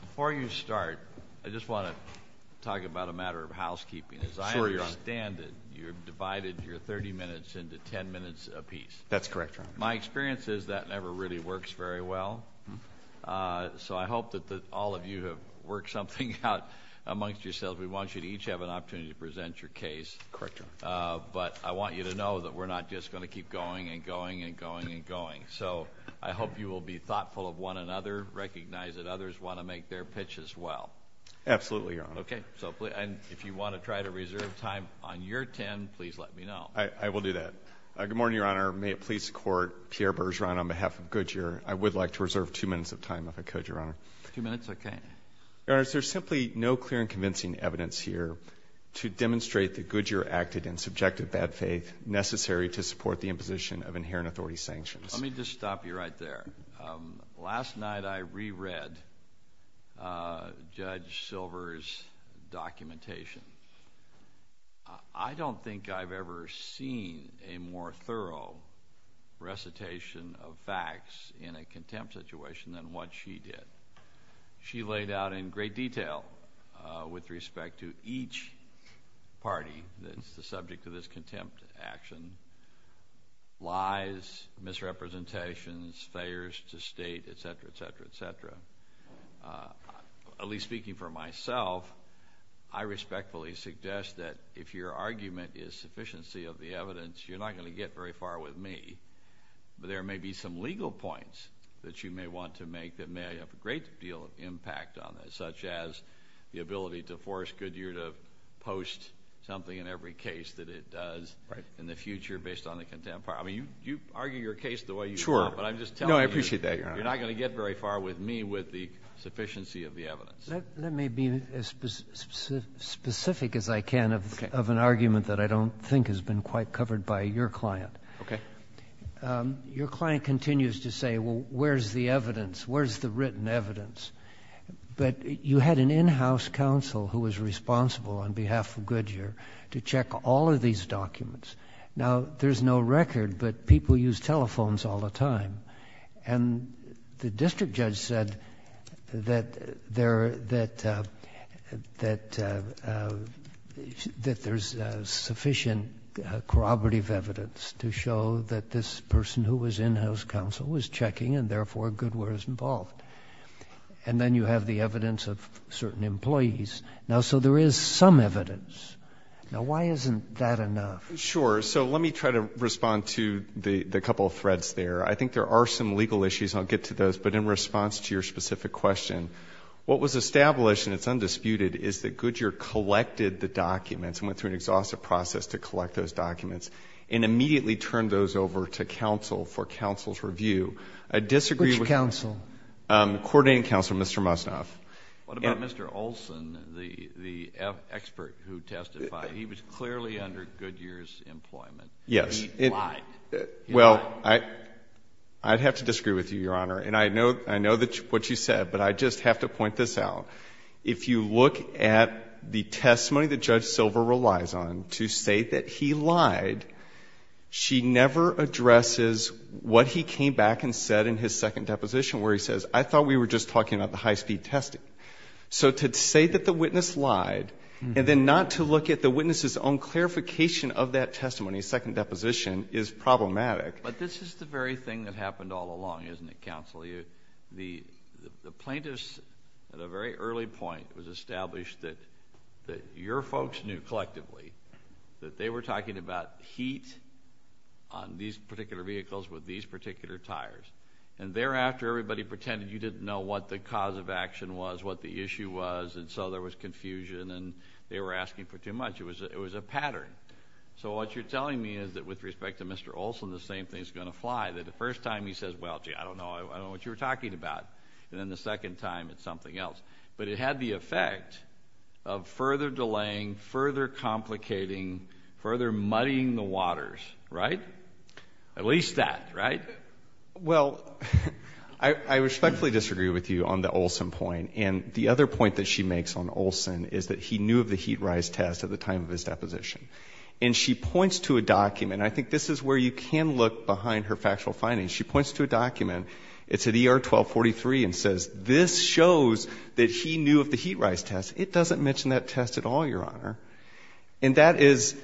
Before you start, I just want to talk about a matter of housekeeping, as I understand that you've divided your 30 minutes into 10 minutes apiece. That's correct, Your Honor. My experience is that never really works very well, so I hope that all of you have worked something out amongst yourselves. We want you to each have an opportunity to present your case. Correct, Your Honor. But I want you to know that we're not just going to keep going and going and going and going. So I hope you will be thoughtful of one another, recognize that others want to make their pitches well. Absolutely, Your Honor. Okay. And if you want to try to reserve time on your 10, please let me know. I will do that. Good morning, Your Honor. May it please the Court, Pierre Bergeron on behalf of Goodyear. I would like to reserve two minutes of time if I could, Your Honor. Two minutes? Okay. There's simply no clear and convincing evidence here to demonstrate that Goodyear acted in subjective bad faith necessary to support the imposition of inherent authority sanctions. Let me just stop you right there. Last night I reread Judge Silver's documentation. I don't think I've ever seen a more thorough recitation of facts in a contempt situation than what she did. She laid out in great detail with respect to each party the subject of this contempt action, lies, misrepresentations, failures to state, et cetera, et cetera, et cetera. At least speaking for myself, I respectfully suggest that if your argument is sufficiency of the evidence, you're not going to get very far with me. There may be some legal points that you may want to make that may have a great deal of impact on this, such as the ability to force Goodyear to post something in every case that it does in the future based on the contempt part. I mean, you argue your case the way you do. Sure. No, I appreciate that, Your Honor. You're not going to get very far with me with the sufficiency of the evidence. Let me be as specific as I can of an argument that I don't think has been quite covered by your client. Okay. Your client continues to say, well, where's the evidence? Where's the written evidence? But you had an in-house counsel who was responsible on behalf of Goodyear to check all of these documents. Now, there's no record, but people use telephones all the time. And the district judge said that there's sufficient corroborative evidence to show that this person who was in-house counsel was checking and, therefore, Goodyear was involved. And then you have the evidence of certain employees. Now, so there is some evidence. Now, why isn't that enough? Sure. So let me try to respond to the couple of threads there. I think there are some legal issues, and I'll get to those. But in response to your specific question, what was established, and it's undisputed, is that Goodyear collected the documents and went through an exhaustive process to collect those documents and immediately turned those over to counsel for counsel's review. I disagree with you. Which counsel? Coordinating counsel, Mr. Mussoff. What about Mr. Olson, the expert who testified? He was clearly under Goodyear's employment. Yes. Why? Well, I'd have to disagree with you, Your Honor. And I know what you said, but I just have to point this out. If you look at the testimony that Judge Silver relies on to state that he lied, she never addresses what he came back and said in his second deposition where he says, I thought we were just talking about the high-speed testing. So to say that the witness lied and then not to look at the witness's own clarification of that testimony, in his second deposition, is problematic. But this is the very thing that happened all along, isn't it, counsel? The plaintiffs, at a very early point, established that your folks knew collectively that they were talking about heat on these particular vehicles with these particular tires. And thereafter, everybody pretended you didn't know what the cause of action was, what the issue was, and so there was confusion and they were asking for too much. It was a pattern. So what you're telling me is that with respect to Mr. Olson, the same thing is going to fly, that the first time he says, well, gee, I don't know what you're talking about, and then the second time it's something else. But it had the effect of further delaying, further complicating, further muddying the waters, right? At least that, right? Well, I respectfully disagree with you on the Olson point. And the other point that she makes on Olson is that he knew of the heat rise test at the time of his deposition. And she points to a document. I think this is where you can look behind her factual findings. She points to a document. It's at ER 1243 and says this shows that he knew of the heat rise test. It doesn't mention that test at all, Your Honor. And that is,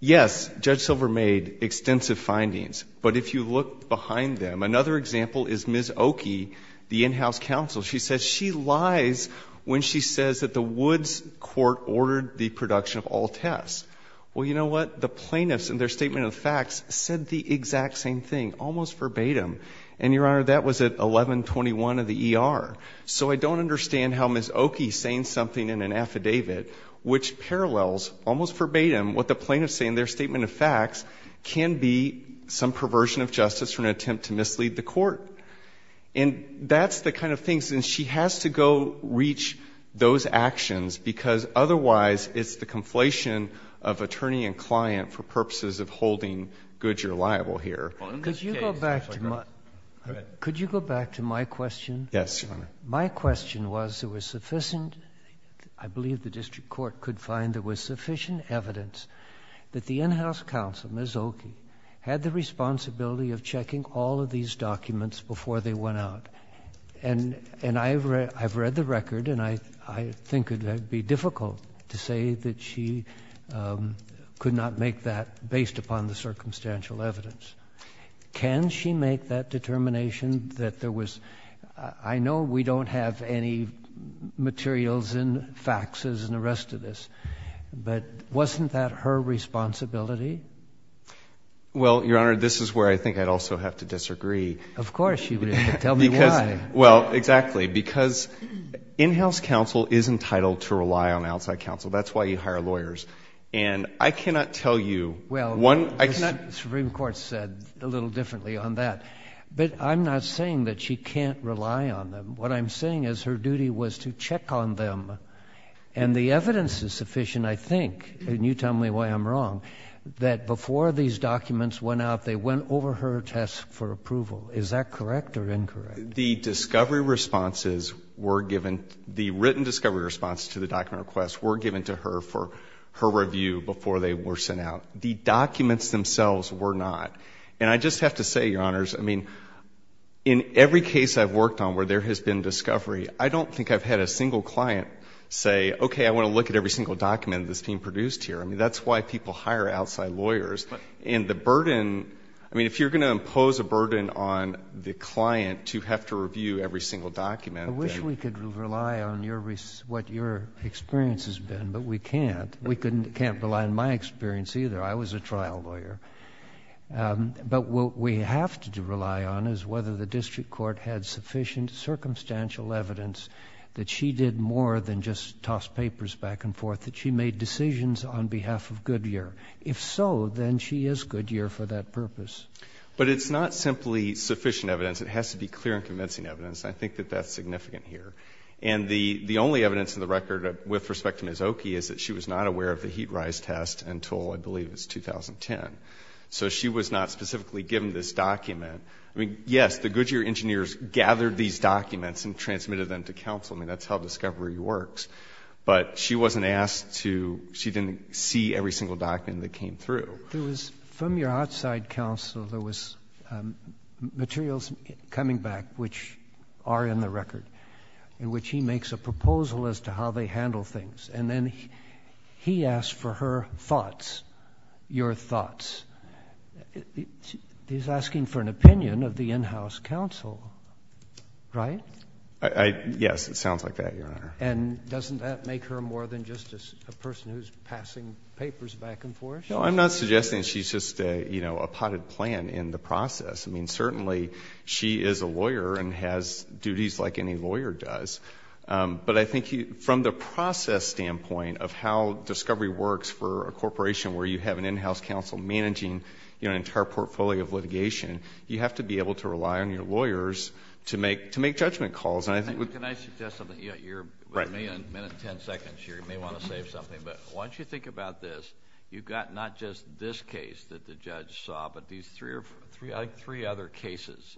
yes, Judge Silver made extensive findings. But if you look behind them, another example is Ms. Oki, the in-house counsel. She says she lies when she says that the Woods court ordered the production of all tests. Well, you know what? The plaintiffs in their statement of facts said the exact same thing, almost verbatim. And, Your Honor, that was at 1121 of the ER. So I don't understand how Ms. Oki saying something in an affidavit, which parallels almost verbatim what the plaintiffs say in their statement of facts, can be some perversion of justice or an attempt to mislead the court. And that's the kind of thing, and she has to go reach those actions because otherwise it's the conflation of attorney and client for purposes of holding Goodyear liable here. Could you go back to my question? Yes, Your Honor. My question was there was sufficient, I believe the district court could find there was sufficient evidence that the in-house counsel, Ms. Oki, had the responsibility of checking all of these documents before they went out. And I've read the record, and I think it would be difficult to say that she could not make that based upon the circumstantial evidence. Can she make that determination that there was, I know we don't have any materials in faxes and the rest of this, but wasn't that her responsibility? Well, Your Honor, this is where I think I'd also have to disagree. Of course you would. Tell me why. Well, exactly. Because in-house counsel is entitled to rely on outside counsel. That's why you hire lawyers. And I cannot tell you. Well, the Supreme Court said a little differently on that. But I'm not saying that she can't rely on them. What I'm saying is her duty was to check on them. And the evidence is sufficient, I think. And you tell me why I'm wrong. That before these documents went out, they went over her test for approval. Is that correct or incorrect? The discovery responses were given, the written discovery responses to the document requests were given to her for her review before they were sent out. The documents themselves were not. And I just have to say, Your Honors, I mean, in every case I've worked on where there has been discovery, I don't think I've had a single client say, okay, I want to look at every single document this team produced here. I mean, that's why people hire outside lawyers. And the burden, I mean, if you're going to impose a burden on the client to have to review every single document. I wish we could rely on what your experience has been, but we can't. We can't rely on my experience either. I was a trial lawyer. But what we have to rely on is whether the district court had sufficient circumstantial evidence that she did more than just toss papers back and forth, that she made decisions on behalf of Goodyear. If so, then she is Goodyear for that purpose. But it's not simply sufficient evidence. It has to be clear and convincing evidence. I think that that's significant here. And the only evidence in the record with respect to Ms. Oki is that she was not aware of the heat rise test until, I believe, it was 2010. So she was not specifically given this document. I mean, yes, the Goodyear engineers gathered these documents and transmitted them to counsel. I mean, that's how discovery works. But she wasn't asked to see every single document that came through. From your outside counsel, there was materials coming back, which are in the record, in which he makes a proposal as to how they handle things. And then he asked for her thoughts, your thoughts. He's asking for an opinion of the in-house counsel, right? Yes, it sounds like that, Your Honor. And doesn't that make her more than just a person who's passing papers back and forth? No, I'm not suggesting she's just a potted plant in the process. I mean, certainly she is a lawyer and has duties like any lawyer does. But I think from the process standpoint of how discovery works for a corporation where you have an in-house counsel managing an entire portfolio of litigation, you have to be able to rely on your lawyers to make judgment calls. Can I suggest something? You're with me a minute and ten seconds here. You may want to save something. But once you think about this, you've got not just this case that the judge saw, but these three other cases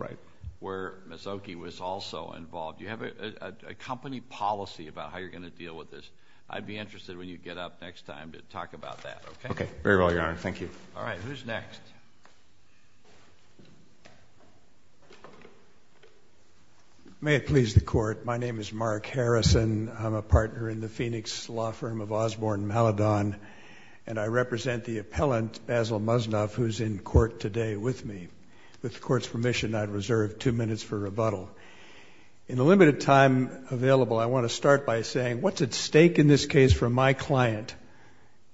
where Mazzocchi was also involved. You have a company policy about how you're going to deal with this. I'd be interested when you get up next time to talk about that, okay? Okay. Very well, Your Honor. Thank you. All right. Who's next? May it please the Court. My name is Mark Harrison. I'm a partner in the Phoenix law firm of Osborne and Maladon, and I represent the appellant, Basil Musnoff, who's in court today with me. With the Court's permission, I'd reserve two minutes for rebuttal. In the limited time available, I want to start by saying what's at stake in this case for my client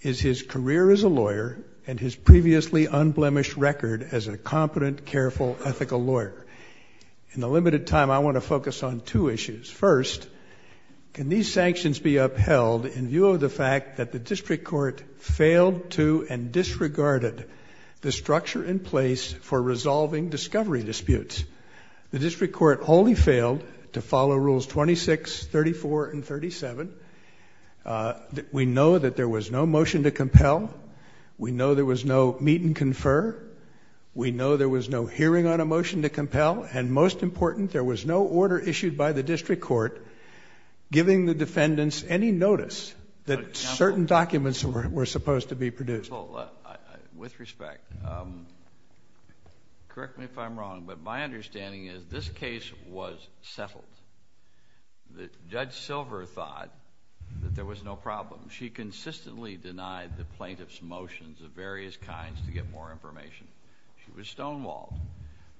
is his career as a lawyer and his previously unblemished record as a competent, careful, ethical lawyer. In the limited time, I want to focus on two issues. First, can these sanctions be upheld in view of the fact that the district court failed to and disregarded the structure in place for resolving discovery disputes? The district court wholly failed to follow rules 26, 34, and 37. We know that there was no motion to compel. We know there was no meet and confer. We know there was no hearing on a motion to compel, and most important, there was no order issued by the district court giving the defendants any notice that certain documents were supposed to be produced. With respect, correct me if I'm wrong, but my understanding is this case was settled. Judge Silver thought that there was no problem. She consistently denied the plaintiff's motions of various kinds to get more information. She was stonewalled.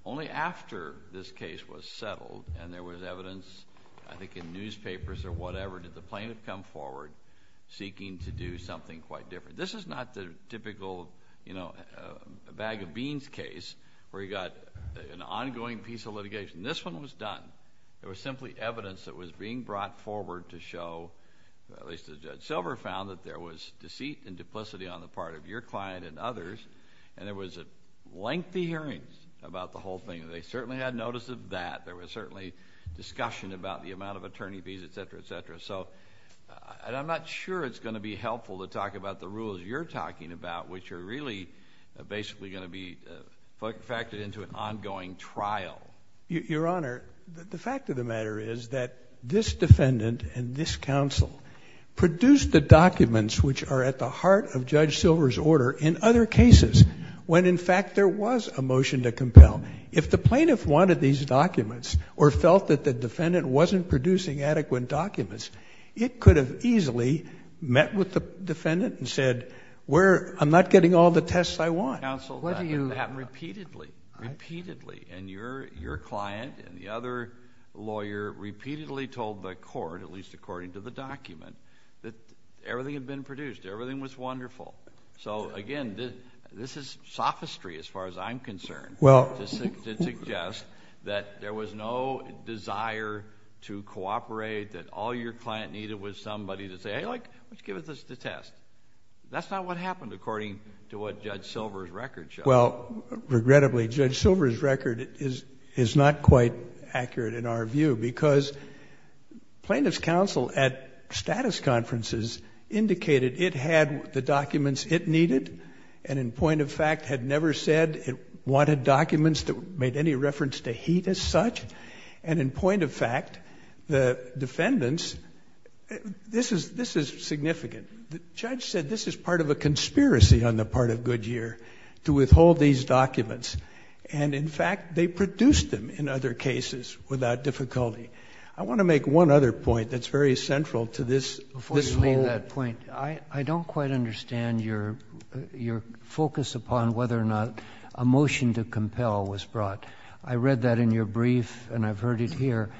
Only after this case was settled and there was evidence, I think in newspapers or whatever, did the plaintiff come forward seeking to do something quite different. This is not the typical, you know, bag of beans case where you've got an ongoing piece of litigation. This one was done. There was simply evidence that was being brought forward to show, at least as Judge Silver found, that there was deceit and duplicity on the part of your client and others, and there was a lengthy hearing about the whole thing. They certainly had notice of that. There was certainly discussion about the amount of attorney fees, et cetera, et cetera. I'm not sure it's going to be helpful to talk about the rules you're talking about, which are really basically going to be factored into an ongoing trial. Your Honor, the fact of the matter is that this defendant and this counsel produced the documents which are at the heart of Judge Silver's order in other cases when, in fact, there was a motion to compel. If the plaintiff wanted these documents or felt that the defendant wasn't producing adequate documents, it could have easily met with the defendant and said, I'm not getting all the tests I want. Counsel, that could happen repeatedly, repeatedly, and your client and the other lawyer repeatedly told the court, at least according to the document, that everything had been produced, everything was wonderful. So, again, this is sophistry as far as I'm concerned to suggest that there was no desire to cooperate, that all your client needed was somebody to say, hey, let's give this a test. That's not what happened according to what Judge Silver's record showed. Well, regrettably, Judge Silver's record is not quite accurate in our view because plaintiff's counsel at status conferences indicated it had the documents it needed and, in point of fact, had never said it wanted documents that made any reference to heat as such. And, in point of fact, the defendants... This is significant. The judge said this is part of a conspiracy on the part of Goodyear to withhold these documents. And, in fact, they produced them in other cases without difficulty. I want to make one other point that's very central to this whole... Before you make that point, I don't quite understand your focus upon whether or not a motion to compel was brought. I read that in your brief and I've heard it here.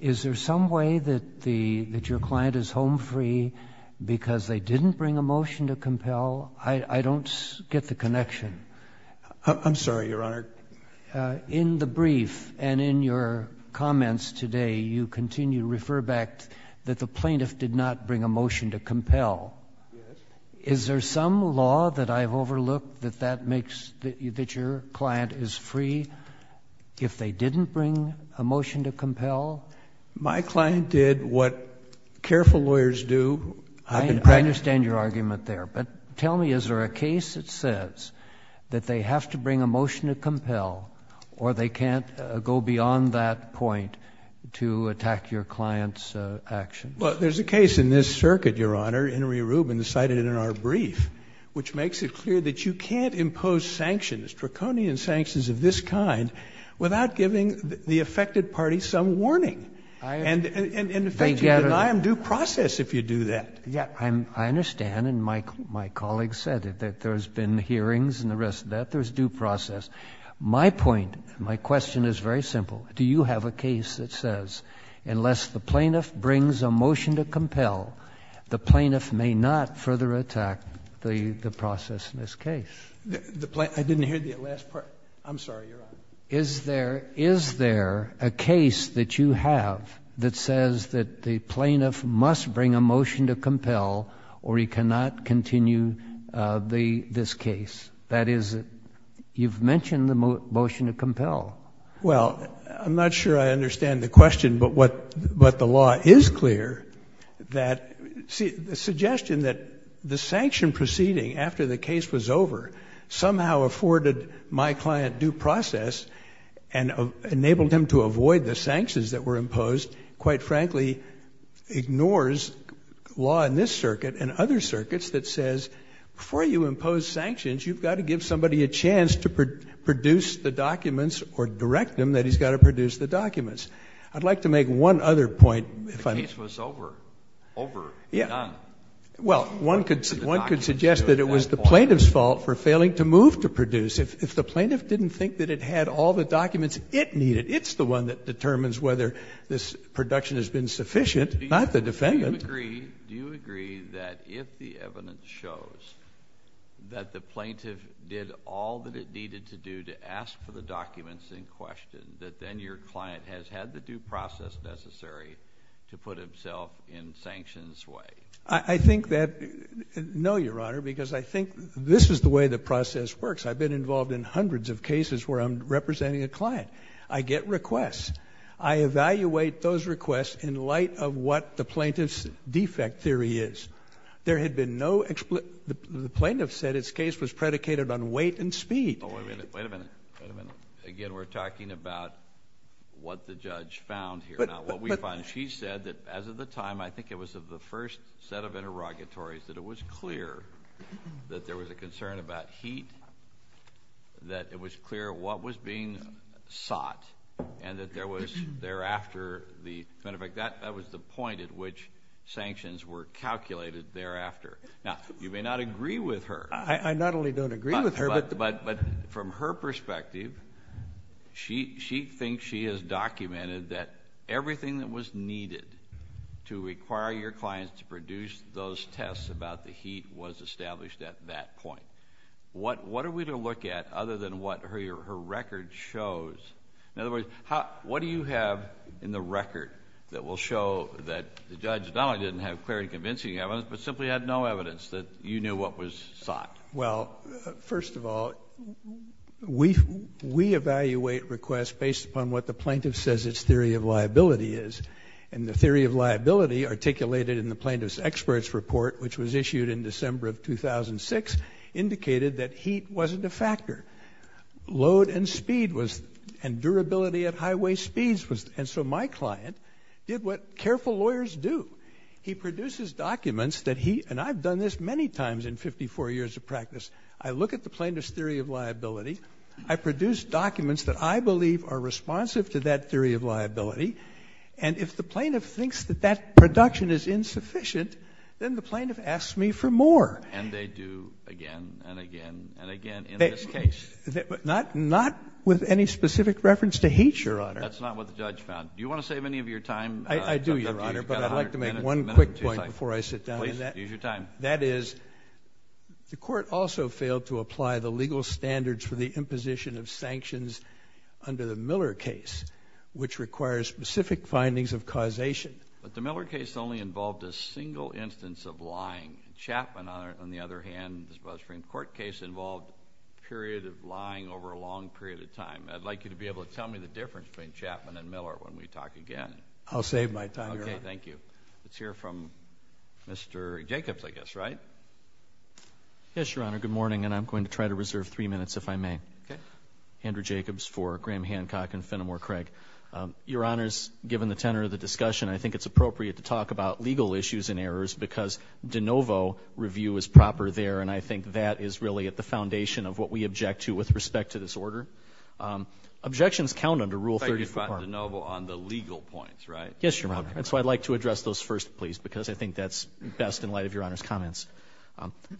Is there some way that your client is home free because they didn't bring a motion to compel? I don't get the connection. I'm sorry, Your Honor. In the brief and in your comments today, you continue to refer back that the plaintiff did not bring a motion to compel. Is there some law that I've overlooked that your client is free if they didn't bring a motion to compel? My client did what careful lawyers do. I understand your argument there. But tell me, is there a case that says that they have to bring a motion to compel or they can't go beyond that point to attack your client's actions? Well, there's a case in this circuit, Your Honor. Henry Rubin cited it in our brief, which makes it clear that you can't impose sanctions, draconian sanctions of this kind, without giving the affected party some warning. And in effect, you deny them due process if you do that. I understand, and my colleague said it, that there's been hearings and the rest of that. There's due process. My point, my question is very simple. Do you have a case that says unless the plaintiff brings a motion to compel, the plaintiff may not further attack the process in this case? I didn't hear the last part. I'm sorry, Your Honor. Is there a case that you have that says that the plaintiff must bring a motion to compel or he cannot continue this case? That is, you've mentioned the motion to compel. Well, I'm not sure I understand the question, but the law is clear that the suggestion that the sanction proceeding after the case was over somehow afforded my client due process and enabled him to avoid the sanctions that were imposed, quite frankly, ignores law in this circuit and other circuits that says before you impose sanctions, you've got to give somebody a chance to produce the documents or direct them that he's got to produce the documents. I'd like to make one other point. The case was over, over, done. Well, one could suggest that it was the plaintiff's fault for failing to move to produce. If the plaintiff didn't think that it had all the documents it needed, it's the one that determines whether this production has been sufficient, not the defendant. Do you agree that if the evidence shows that the plaintiff did all that it needed to do to ask for the documents in question, that then your client has had the due process necessary to put himself in sanctions' way? I think that, no, Your Honor, because I think this is the way the process works. I've been involved in hundreds of cases where I'm representing a client. I get requests. I evaluate those requests in light of what the plaintiff's defect theory is. There had been no explanation. The plaintiff said his case was predicated on weight and speed. Wait a minute. Wait a minute. Again, we're talking about what the judge found here, not what we found. She said that as of the time, I think it was the first set of interrogatories, that it was clear that there was a concern about heat, that it was clear what was being sought, and that there was thereafter the point at which sanctions were calculated thereafter. Now, you may not agree with her. I not only don't agree with her. But from her perspective, she thinks she has documented that everything that was needed to require your client to produce those tests about the heat was established at that point. What are we to look at other than what her record shows? In other words, what do you have in the record that will show that the judge, not only didn't have clear and convincing evidence, but simply had no evidence that you knew what was sought? Well, first of all, we evaluate requests based upon what the plaintiff says its theory of liability is. And the theory of liability articulated in the plaintiff's expert's report, which was issued in December of 2006, indicated that heat wasn't a factor. Load and speed was... And durability at highway speeds was... And so my client did what careful lawyers do. He produces documents that heat... And I've done this many times in 54 years of practice. I look at the plaintiff's theory of liability. I produce documents that I believe are responsive to that theory of liability. And if the plaintiff thinks that that production is insufficient, then the plaintiff asks me for more. And they do again and again and again in this case. But not with any specific reference to heat, Your Honor. That's not what the judge found. Do you want to save any of your time? I do, Your Honor, but I'd like to make one quick point before I sit down. Please, use your time. That is, the court also failed to apply the legal standards for the imposition of sanctions under the Miller case, which requires specific findings of causation. But the Miller case only involved a single instance of lying. Chapman, on the other hand, this BuzzFriend court case, involved a period of lying over a long period of time. I'd like you to be able to tell me the difference between Chapman and Miller when we talk again. I'll save my time, Your Honor. Okay, thank you. Let's hear from Mr. Jacobs, I guess, right? Yes, Your Honor, good morning. And I'm going to try to reserve three minutes if I may. Okay. Andrew Jacobs for Graham Hancock and Fenimore Craig. Your Honors, given the tenor of the discussion, I think it's appropriate to talk about legal issues and errors because de novo review is proper there, and I think that is really at the foundation of what we object to with respect to this order. Objections count under Rule 34. De novo on the legal points, right? Yes, Your Honor. That's why I'd like to address those first, please, because I think that's best in light of Your Honor's comments.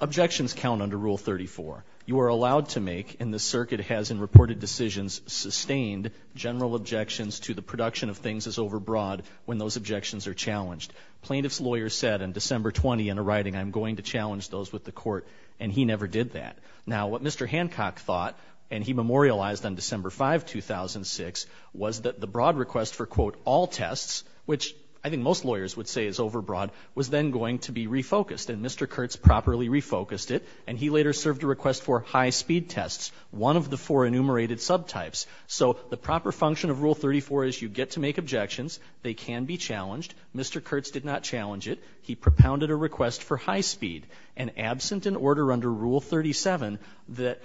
Objections count under Rule 34. You are allowed to make, and the circuit has in reported decisions, sustained general objections to the production of things as overbroad when those objections are challenged. Plaintiff's lawyers said on December 20 in a writing, I'm going to challenge those with the court, and he never did that. Now, what Mr. Hancock thought, and he memorialized on December 5, 2006, was that the broad request for, quote, all tests, which I think most lawyers would say is overbroad, was then going to be refocused, and Mr. Kurtz properly refocused it, and he later served a request for high-speed tests, one of the four enumerated subtypes. So the proper function of Rule 34 is you get to make objections. They can be challenged. Mr. Kurtz did not challenge it. He propounded a request for high-speed, and absent an order under Rule 37 that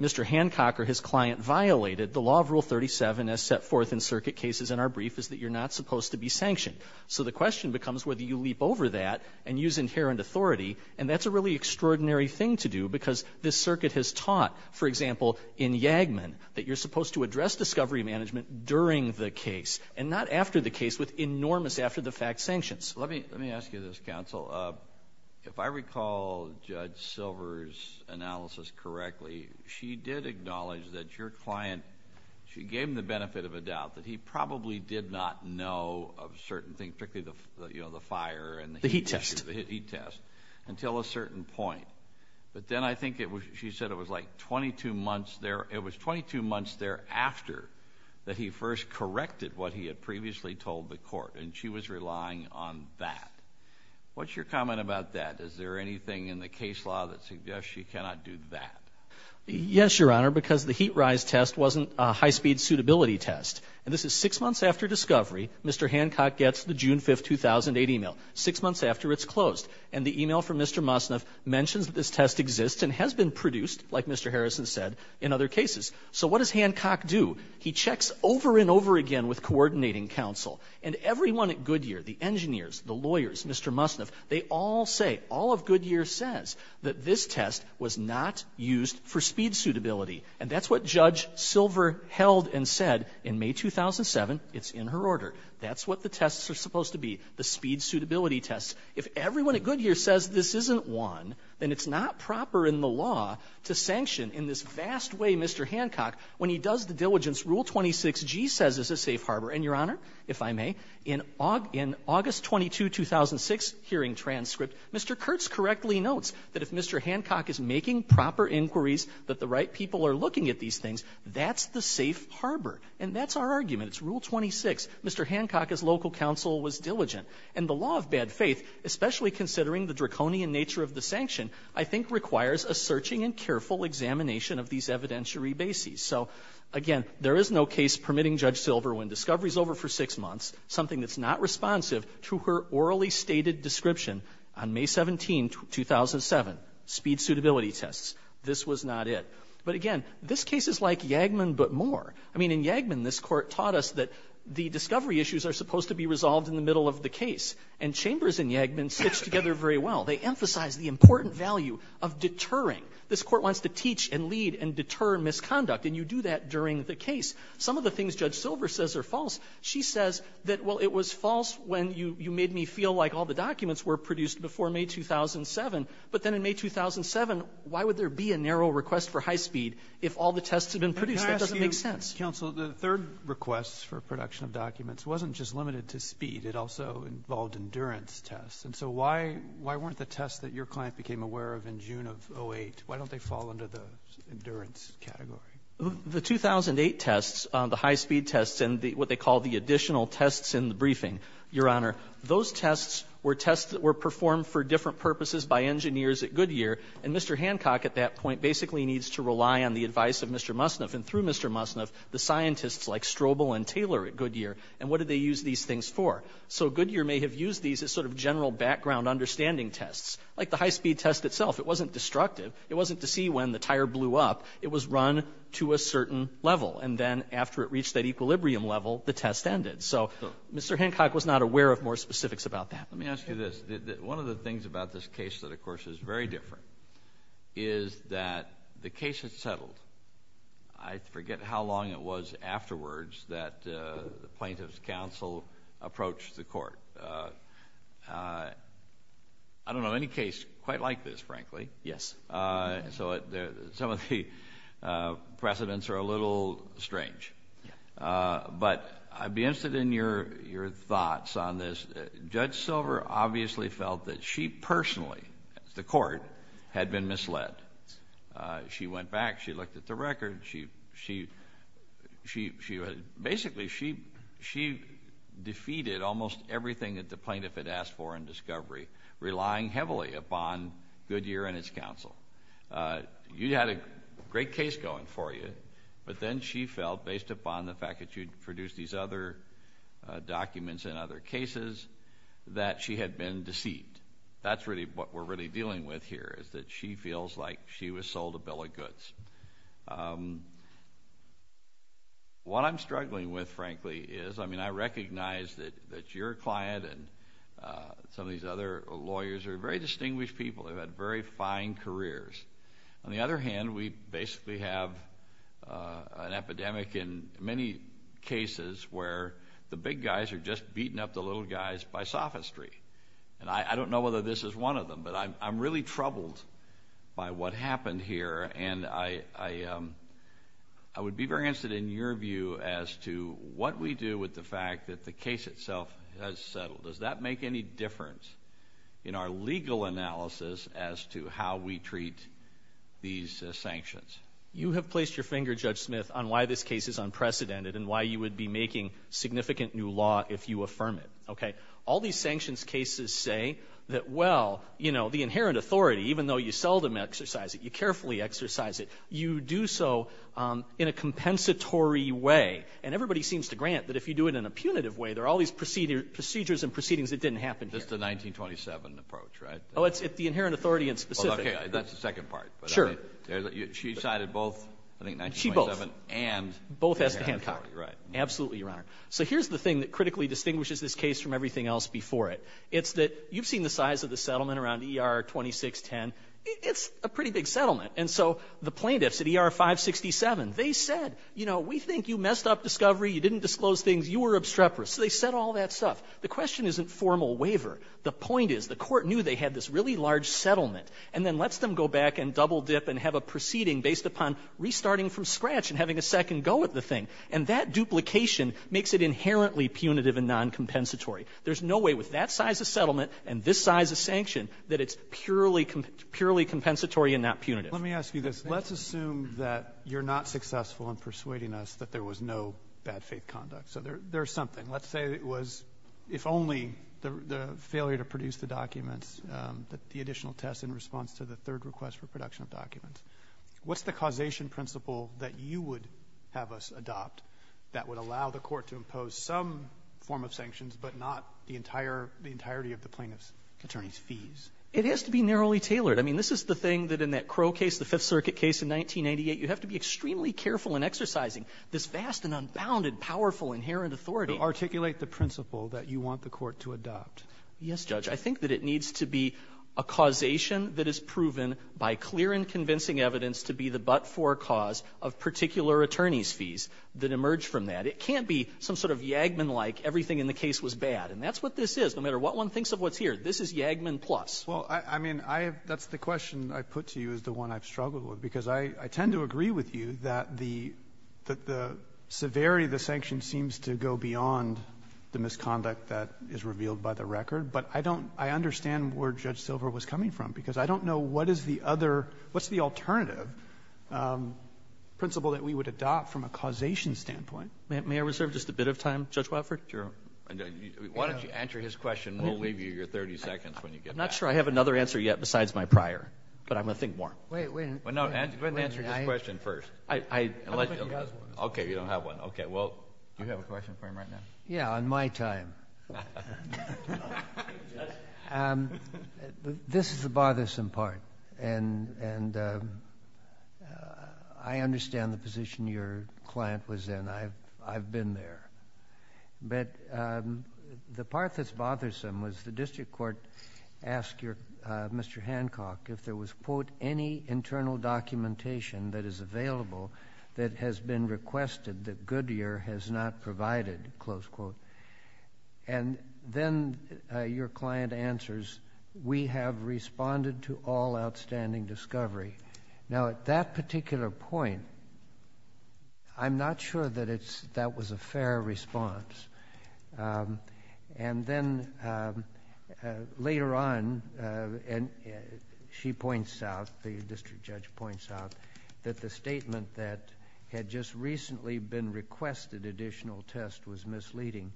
Mr. Hancock or his client violated, the law of Rule 37 as set forth in circuit cases in our brief is that you're not supposed to be sanctioned. So the question becomes whether you leap over that and use inherent authority, and that's a really extraordinary thing to do because this circuit has taught, for example, in Yagman, that you're supposed to address discovery management during the case and not after the case with enormous after-the-fact sanctions. Let me ask you this, counsel. If I recall Judge Silver's analysis correctly, she did acknowledge that your client, she gave him the benefit of a doubt, that he probably did not know of certain things, particularly the fire and the heat test, until a certain point, but then I think she said it was like 22 months there. that he first corrected what he had previously told the court, and she was relying on that. What's your comment about that? Is there anything in the case law that suggests she cannot do that? Yes, Your Honor, because the heat rise test wasn't a high-speed suitability test, and this is six months after discovery. Mr. Hancock gets the June 5, 2008 email, six months after it's closed, and the email from Mr. Mosniff mentions that this test exists and has been produced, like Mr. Harrison said, in other cases. So what does Hancock do? He checks over and over again with coordinating counsel, and everyone at Goodyear, the engineers, the lawyers, Mr. Mosniff, they all say, all of Goodyear says that this test was not used for speed suitability, and that's what Judge Silver held and said in May 2007. It's in her order. That's what the tests are supposed to be, the speed suitability tests. If everyone at Goodyear says this isn't one, then it's not proper in the law to sanction in this vast way Mr. Hancock when he does the diligence Rule 26G says is a safe harbor, and, Your Honor, if I may, in August 22, 2006 hearing transcript, Mr. Kurtz correctly notes that if Mr. Hancock is making proper inquiries that the right people are looking at these things, that's the safe harbor, and that's our argument. It's Rule 26. Mr. Hancock, as local counsel, was diligent, and the law of bad faith, especially considering the draconian nature of the sanction, I think requires a searching and careful examination of these evidentiary bases. So, again, there is no case permitting Judge Silver, when discovery is over for six months, something that's not responsive to her orally stated description on May 17, 2007, speed suitability tests. This was not it. But, again, this case is like Yagman but more. I mean, in Yagman this court taught us that the discovery issues are supposed to be resolved in the middle of the case, and Chambers and Yagman stitched together very well. They emphasized the important value of deterring. This court wants to teach and lead and deter misconduct, and you do that during the case. Some of the things Judge Silver says are false. She says that, well, it was false when you made me feel like all the documents were produced before May 2007, but then in May 2007, why would there be a narrow request for high speed if all the tests had been produced? That doesn't make sense. Counsel, the third request for production of documents wasn't just limited to speed. It also involved endurance tests. So why weren't the tests that your client became aware of in June of 2008, why don't they fall under the endurance category? The 2008 tests, the high speed tests, and what they call the additional tests in the briefing, Your Honor, those tests were tests that were performed for different purposes by engineers at Goodyear, and Mr. Hancock at that point basically needs to rely on the advice of Mr. Musniff, and through Mr. Musniff, the scientists like Strobel and Taylor at Goodyear, and what did they use these things for? So Goodyear may have used these as sort of general background understanding tests, like the high speed test itself. It wasn't destructive. It wasn't to see when the tire blew up. It was run to a certain level, and then after it reached that equilibrium level, the test ended. So Mr. Hancock was not aware of more specifics about that. Let me ask you this. One of the things about this case that, of course, is very different is that the case is settled. I forget how long it was afterwards that the plaintiff's counsel approached the court. I don't know any case quite like this, frankly. Yes. So some of the precedents are a little strange. But I'd be interested in your thoughts on this. Judge Silver obviously felt that she personally, the court, had been misled. She went back. She looked at the record. Basically, she defeated almost everything that the plaintiff had asked for in discovery, relying heavily upon Goodyear and its counsel. You had a great case going for you, but then she felt, based upon the fact that you'd produced these other documents and other cases, that she had been deceived. And that's really what we're really dealing with here, is that she feels like she was sold a bill of goods. What I'm struggling with, frankly, is I recognize that your client and some of these other lawyers are very distinguished people who had very fine careers. On the other hand, we basically have an epidemic in many cases where the big guys are just beating up the little guys by sophistry. And I don't know whether this is one of them, but I'm really troubled by what happened here. And I would be very interested in your view as to what we do with the fact that the case itself has settled. Does that make any difference in our legal analysis as to how we treat these sanctions? You have placed your finger, Judge Smith, on why this case is unprecedented and why you would be making significant new law if you affirm it. All these sanctions cases say that, well, the inherent authority, even though you seldom exercise it, you carefully exercise it, you do so in a compensatory way. And everybody seems to grant that if you do it in a punitive way, there are all these procedures and proceedings that didn't happen here. That's the 1927 approach, right? Oh, it's the inherent authority in specific. That's the second part. She cited both, I think, 1927 and 1927. Absolutely, Your Honor. So here's the thing that critically distinguishes this case from everything else before it. It's that you've seen the size of the settlement around ER 2610. It's a pretty big settlement. And so the plaintiffs at ER 567, they said, you know, we think you messed up discovery. You didn't disclose things. You were obstreperous. So they set all that stuff. The question isn't formal waiver. The point is the court knew they had this really large settlement and then lets them go back and double dip and have a proceeding based upon restarting from scratch and having a second go at the thing. And that duplication makes it inherently punitive and noncompensatory. There's no way with that size of settlement and this size of sanction that it's purely compensatory and not punitive. Let me ask you this. Let's assume that you're not successful in persuading us that there was no bad faith conduct. So there's something. Let's say it was if only the failure to produce the documents, the additional test in response to the third request for production of documents. What's the causation principle that you would have us adopt that would allow the court to impose some form of sanctions but not the entirety of the plaintiff's attorney's fees? It has to be narrowly tailored. I mean, this is the thing that in that Crow case, the Fifth Circuit case in 1988, you have to be extremely careful in exercising this vast and unbounded, powerful, inherent authority. To articulate the principle that you want the court to adopt. Yes, Judge. I think that it needs to be a causation that is proven by clear and convincing evidence to be the but-for cause of particular attorney's fees that emerge from that. It can't be some sort of Yagman-like everything in the case was bad. And that's what this is, no matter what one thinks of what's here. This is Yagman plus. Well, I mean, that's the question I put to you is the one I've struggled with because I tend to agree with you that the severity of the sanction seems to go beyond the misconduct that is revealed by the record. But I understand where Judge Silver was coming from because I don't know what's the alternative principle that we would adopt from a causation standpoint. May I reserve just a bit of time, Judge Wofford? Sure. Why don't you answer his question, and we'll leave you your 30 seconds when you get back. I'm not sure I have another answer yet besides my prior, but I'm going to think more. Wait, wait. No, go ahead and answer your question first. Okay, you don't have one. Okay, well, you have a question for him right now. Yeah, on my time. This is the bothersome part, and I understand the position your client was in. I've been there. But the part that's bothersome was the district court asked Mr. Hancock if there was, quote, any internal documentation that is available that has been requested that Goodyear has not provided, close quote. And then your client answers, we have responded to all outstanding discovery. Now, at that particular point, I'm not sure that that was a fair response. And then later on, she points out, the district judge points out, that the statement that had just recently been requested additional test was misleading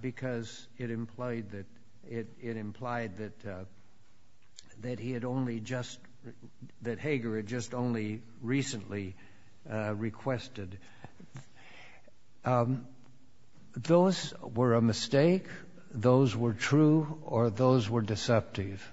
because it implied that Hager had just only recently requested. Those were a mistake, those were true, or those were deceptive?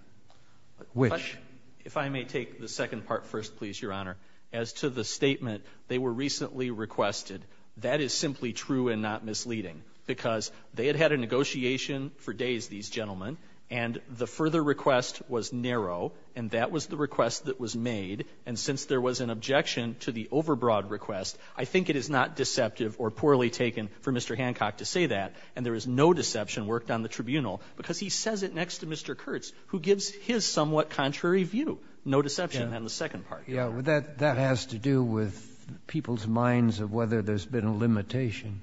Which? If I may take the second part first, please, Your Honor. As to the statement, they were recently requested. That is simply true and not misleading because they had had a negotiation for days, these gentlemen, and the further request was narrow, and that was the request that was made. And since there was an objection to the overbroad request, I think it is not deceptive or poorly taken for Mr. Hancock to say that, and there is no deception worked on the tribunal because he says it next to Mr. Kurtz, who gives his somewhat contrary view. No deception on the second part. Yeah, that has to do with people's minds of whether there's been a limitation.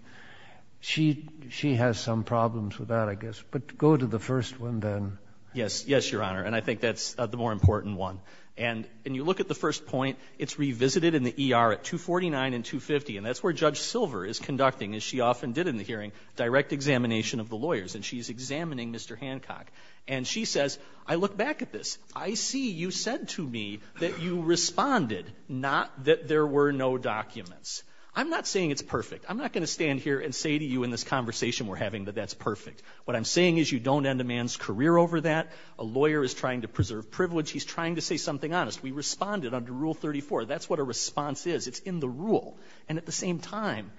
She has some problems with that, I guess, but go to the first one then. Yes, Your Honor, and I think that's the more important one. And when you look at the first point, it's revisited in the ER at 249 and 250, and that's where Judge Silver is conducting, as she often did in the hearing, direct examination of the lawyers, and she's examining Mr. Hancock. And she says, I look back at this. I see you said to me that you responded, not that there were no documents. I'm not saying it's perfect. I'm not going to stand here and say to you in this conversation we're having that that's perfect. What I'm saying is you don't end a man's career over that. A lawyer is trying to preserve privilege. He's trying to say something honest. We responded under Rule 34. That's what a response is. It's in the rule. And at the same time,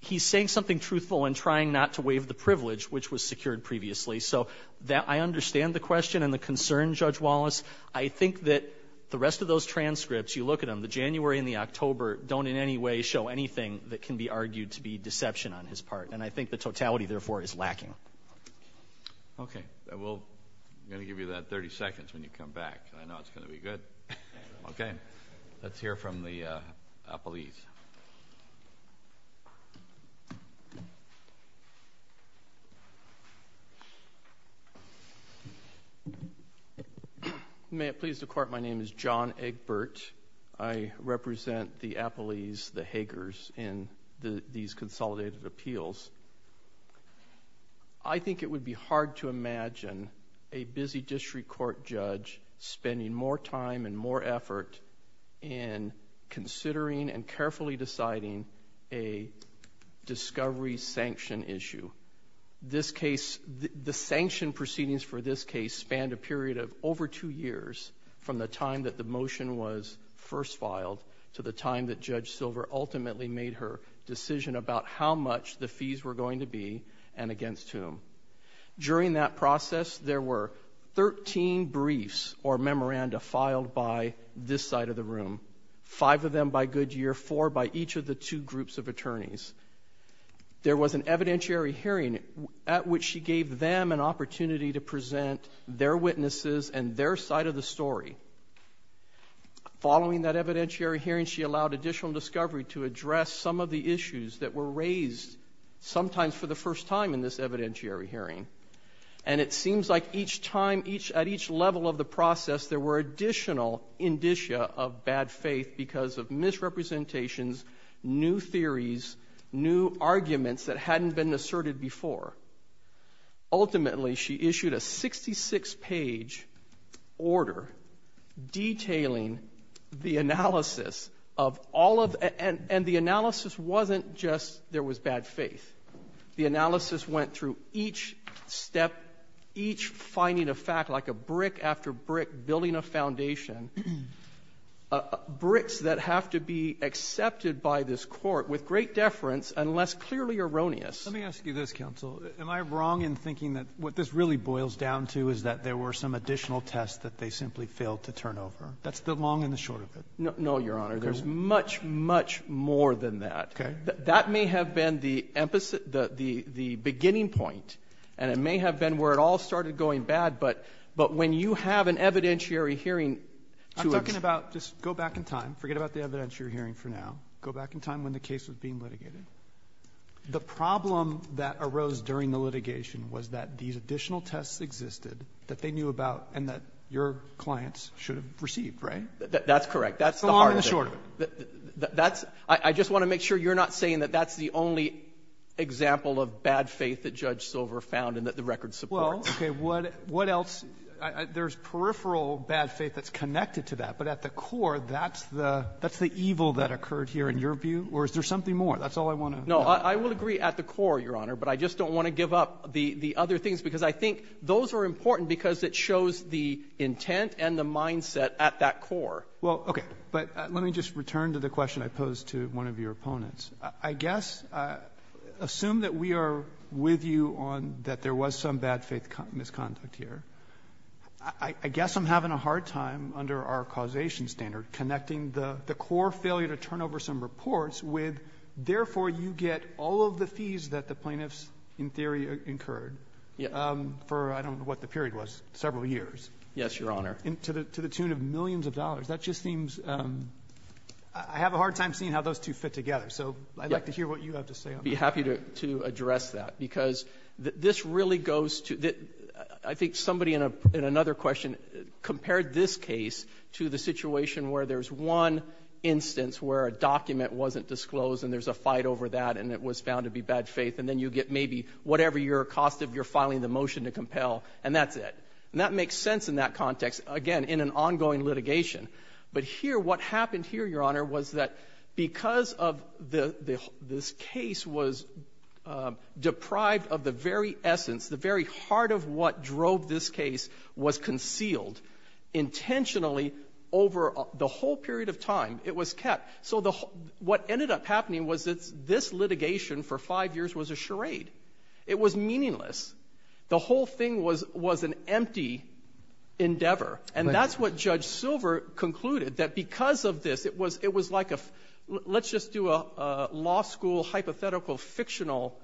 he's saying something truthful and trying not to waive the privilege, which was secured previously. So I understand the question and the concern, Judge Wallace. I think that the rest of those transcripts, you look at them, the January and the October, don't in any way show anything that can be argued to be deception on his part, and I think the totality, therefore, is lacking. Okay. I'm going to give you that 30 seconds when you come back. I know it's going to be good. Okay. Let's hear from the appellees. May it please the Court, my name is John Egbert. I represent the appellees, the Hagers, in these consolidated appeals. I think it would be hard to imagine a busy district court judge spending more time and more effort in considering and carefully deciding a discovery sanction issue. The sanction proceedings for this case spanned a period of over two years from the time that the motion was first filed to the time that Judge Silver ultimately made her decision about how much the fees were going to be and against whom. During that process, there were 13 briefs or memoranda filed by this side of the room, five of them by Goodyear, four by each of the two groups of attorneys. There was an evidentiary hearing at which she gave them an opportunity to present their witnesses and their side of the story. Following that evidentiary hearing, she allowed additional discovery to address some of the issues that were raised, sometimes for the first time in this evidentiary hearing. And it seems like each time, at each level of the process, there were additional indicia of bad faith because of misrepresentations, new theories, new arguments that hadn't been asserted before. Ultimately, she issued a 66-page order detailing the analysis of all of it. And the analysis wasn't just there was bad faith. The analysis went through each step, each finding of fact, like a brick after brick building a foundation, bricks that have to be accepted by this court with great deference and less clearly erroneous. Let me ask you this, counsel. Am I wrong in thinking that what this really boils down to is that there were some additional tests that they simply failed to turn over? That's the long and the short of it. No, Your Honor. There's much, much more than that. Okay. That may have been the beginning point, and it may have been where it all started going bad, but when you have an evidentiary hearing to— I'm talking about just go back in time. Forget about the evidentiary hearing for now. Go back in time when the case was being litigated. The problem that arose during the litigation was that these additional tests existed that they knew about and that your clients should have received, right? That's correct. That's the hard thing. The long and the short of it. I just want to make sure you're not saying that that's the only example of bad faith that Judge Silver found and that the records support. Well, okay, what else? There's peripheral bad faith that's connected to that, but at the core that's the evil that occurred here in your view, or is there something more? That's all I want to know. No, I will agree at the core, Your Honor, but I just don't want to give up the other things because I think those are important because it shows the intent and the mindset at that core. Well, okay, but let me just return to the question I posed to one of your opponents. I guess assume that we are with you on that there was some bad faith misconduct here. I guess I'm having a hard time under our causation standard connecting the core failure to turn over some reports with therefore you get all of the fees that the plaintiffs in theory incurred for I don't know what the period was, several years. Yes, Your Honor. To the tune of millions of dollars. That just seems I have a hard time seeing how those two fit together. So I'd like to hear what you have to say on that. I'd be happy to address that because this really goes to I think somebody in another question compared this case to the situation where there's one instance where a document wasn't disclosed and there's a fight over that and it was found to be bad faith and then you get maybe whatever your cost of your filing the motion to compel and that's it. And that makes sense in that context, again, in an ongoing litigation. But here what happened here, Your Honor, was that because of this case was deprived of the very essence, the very heart of what drove this case was concealed intentionally over the whole period of time. It was kept. So what ended up happening was that this litigation for five years was a charade. It was meaningless. The whole thing was an empty endeavor. And that's what Judge Silver concluded, that because of this it was like a let's just do a law school hypothetical fictional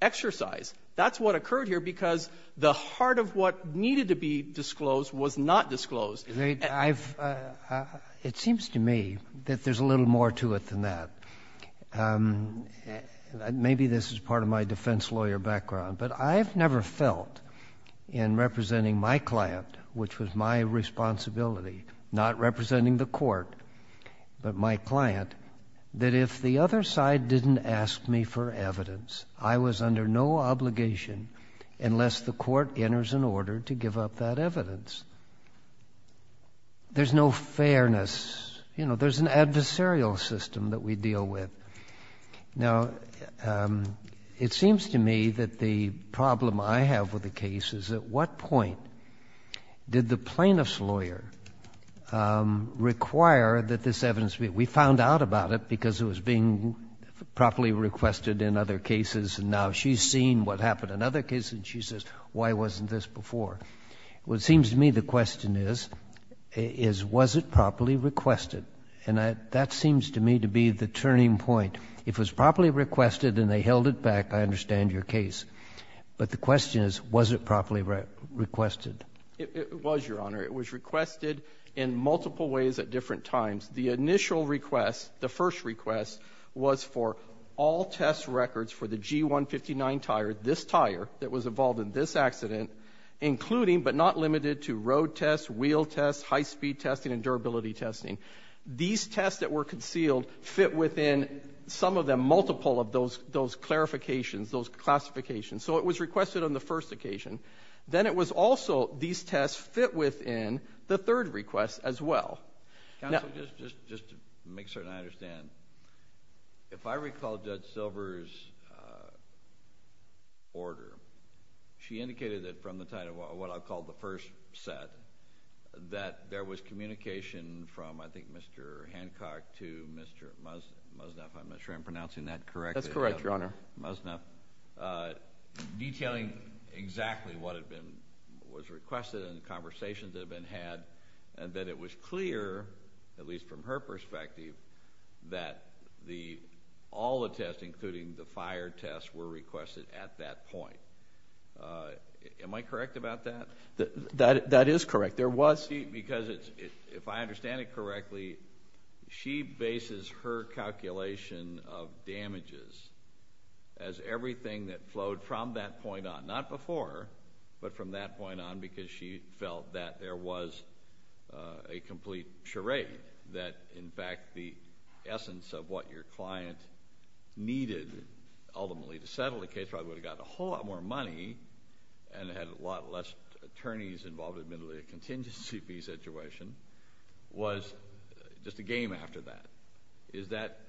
exercise. That's what occurred here because the heart of what needed to be disclosed was not disclosed. It seems to me that there's a little more to it than that. Maybe this is part of my defense lawyer background, but I've never felt in representing my client, which was my responsibility, not representing the court, but my client, that if the other side didn't ask me for evidence, I was under no obligation unless the court enters an order to give up that evidence. There's no fairness. You know, there's an adversarial system that we deal with. Now, it seems to me that the problem I have with the case is at what point did the plaintiff's lawyer require that this evidence be? We found out about it because it was being properly requested in other cases, and now she's seen what happened in other cases, and she says, why wasn't this before? Well, it seems to me the question is, was it properly requested? And that seems to me to be the turning point. If it was properly requested and they held it back, I understand your case. But the question is, was it properly requested? It was, Your Honor. It was requested in multiple ways at different times. The initial request, the first request, was for all test records for the G159 tires, this tire that was involved in this accident, including but not limited to road tests, wheel tests, high-speed testing, and durability testing. These tests that were concealed fit within some of them, multiple of those clarifications, those classifications. So it was requested on the first occasion. Then it was also these tests fit within the third request as well. Counsel, just to make certain I understand, if I recall Judge Silver's order, she indicated that from the title of what I've called the first set, that there was communication from, I think, Mr. Hancock to Mr. Musnaf, I'm not sure I'm pronouncing that correctly. That's correct, Your Honor. Musnaf, detailing exactly what was requested and the conversations that had been had, and that it was clear, at least from her perspective, that all the tests, including the fire tests, were requested at that point. Am I correct about that? That is correct. Because if I understand it correctly, she bases her calculation of damages as everything that flowed from that point on, not before, but from that point on because she felt that there was a complete charade, that, in fact, the essence of what your client needed ultimately to settle the case, probably would have gotten a whole lot more money and had a lot less attorneys involved in the contingency fee situation, was just a game after that. Is that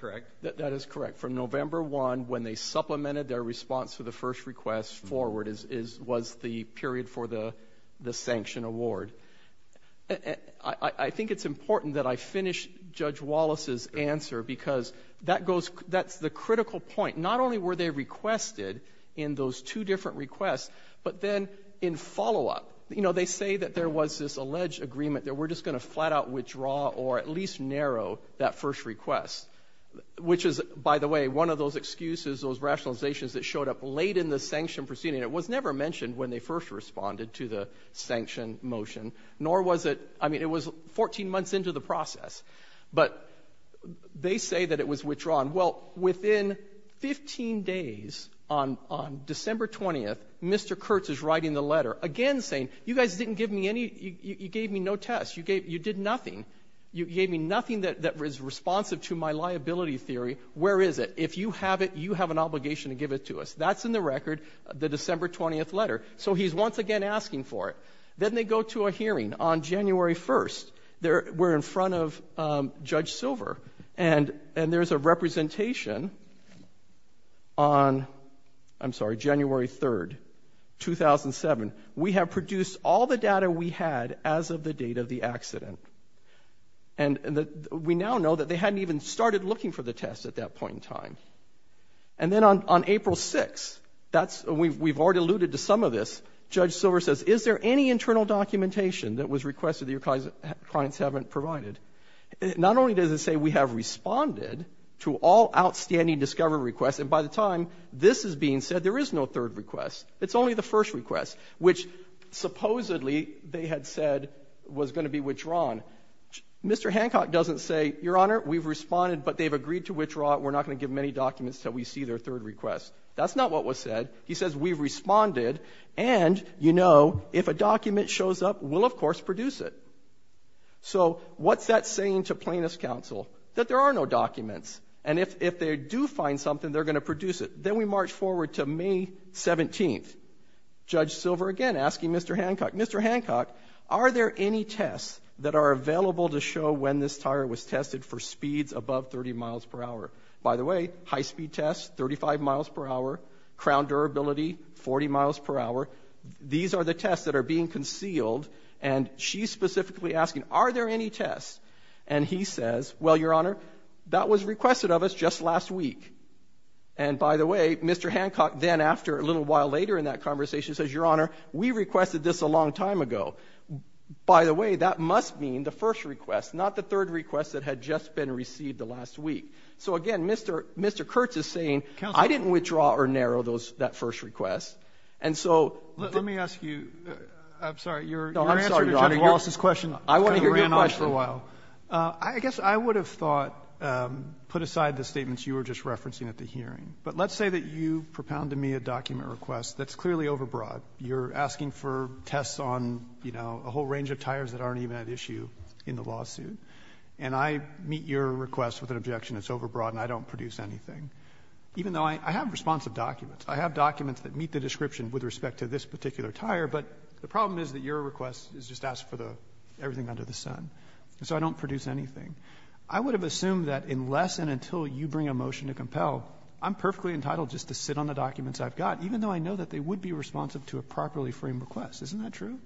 correct? That is correct. From November 1, when they supplemented their response to the first request forward, was the period for the sanction award. I think it's important that I finish Judge Wallace's answer because that's the critical point. Not only were they requested in those two different requests, but then in follow-up, they say that there was this alleged agreement that we're just going to flat-out withdraw or at least narrow that first request, which is, by the way, one of those excuses, those rationalizations that showed up late in the sanction proceeding. It was never mentioned when they first responded to the sanction motion, nor was it 14 months into the process. But they say that it was withdrawn. Well, within 15 days, on December 20, Mr. Kurtz is writing the letter again saying, you guys didn't give me any, you gave me no test. You did nothing. You gave me nothing that was responsive to my liability theory. Where is it? If you have it, you have an obligation to give it to us. That's in the record, the December 20 letter. So he's once again asking for it. Then they go to a hearing on January 1. We're in front of Judge Silver, and there's a representation on, I'm sorry, January 3, 2007. We have produced all the data we had as of the date of the accident. And we now know that they hadn't even started looking for the test at that point in time. And then on April 6, we've already alluded to some of this, Judge Silver says, is there any internal documentation that was requested that your clients haven't provided? Not only does it say we have responded to all outstanding discovery requests, and by the time this is being said, there is no third request. It's only the first request, which supposedly they had said was going to be withdrawn. Mr. Hancock doesn't say, Your Honor, we've responded, but they've agreed to withdraw. We're not going to give many documents until we see their third request. That's not what was said. He says we've responded, and, you know, if a document shows up, we'll, of course, produce it. So what's that saying to plaintiff's counsel? That there are no documents, and if they do find something, they're going to produce it. Then we march forward to May 17. Judge Silver again asking Mr. Hancock, Mr. Hancock, are there any tests that are available to show when this tire was tested for speeds above 30 miles per hour? By the way, high-speed test, 35 miles per hour, crown durability, 40 miles per hour. These are the tests that are being concealed, and she's specifically asking, are there any tests? And he says, well, Your Honor, that was requested of us just last week. And, by the way, Mr. Hancock then, after a little while later in that conversation, says, Your Honor, we requested this a long time ago. By the way, that must mean the first request, not the third request that had just been received the last week. So, again, Mr. Kurtz is saying, I didn't withdraw or narrow that first request, and so. Let me ask you, I'm sorry, your answer to Dr. Wallace's question. I want to hear your question. Thanks for a while. I guess I would have thought, put aside the statements you were just referencing at the hearing, but let's say that you propounded me a document request that's clearly overbroad. You're asking for tests on, you know, a whole range of tires that aren't even at issue in the lawsuit, and I meet your request with an objection that's overbroad and I don't produce anything, even though I have responsive documents. I have documents that meet the description with respect to this particular tire, but the problem is that your request is just ask for everything under the sun, and so I don't produce anything. I would have assumed that unless and until you bring a motion to compel, I'm perfectly entitled just to sit on the documents I've got, even though I know that they would be responsive to a properly framed request. Isn't that true?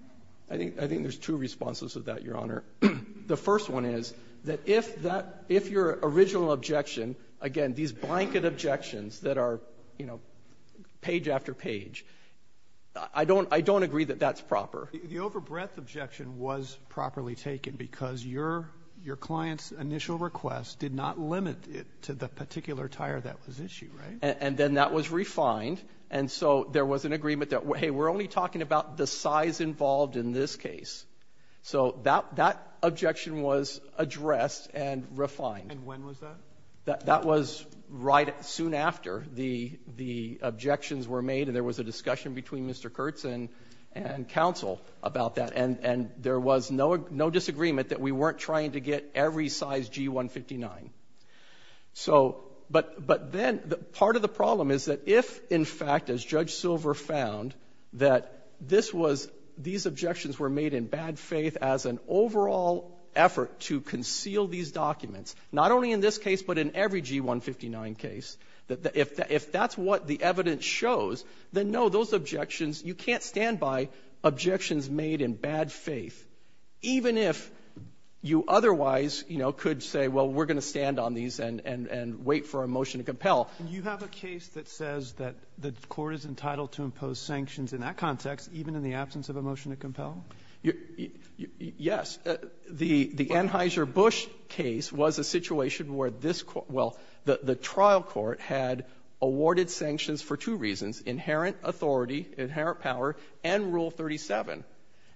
I think there's two responses to that, Your Honor. The first one is that if your original objection, again, these blanket objections that are, you know, page after page, I don't agree that that's proper. The overbreadth objection was properly taken because your client's initial request did not limit it to the particular tire that was issued, right? And then that was refined, and so there was an agreement that, hey, we're only talking about the size involved in this case. So that objection was addressed and refined. And when was that? That was right soon after the objections were made, and there was a discussion between Mr. Kurtz and counsel about that, and there was no disagreement that we weren't trying to get every size G-159. But then part of the problem is that if, in fact, as Judge Silver found, that these objections were made in bad faith as an overall effort to conceal these documents, not only in this case but in every G-159 case, if that's what the evidence shows, then, no, those objections, you can't stand by objections made in bad faith, even if you otherwise, you know, could say, well, we're going to stand on these and wait for a motion to compel. Do you have a case that says that the court is entitled to impose sanctions in that context even in the absence of a motion to compel? Yes. The Anheuser-Busch case was a situation where this court, well, the trial court, had awarded sanctions for two reasons, inherent authority, inherent power, and Rule 37.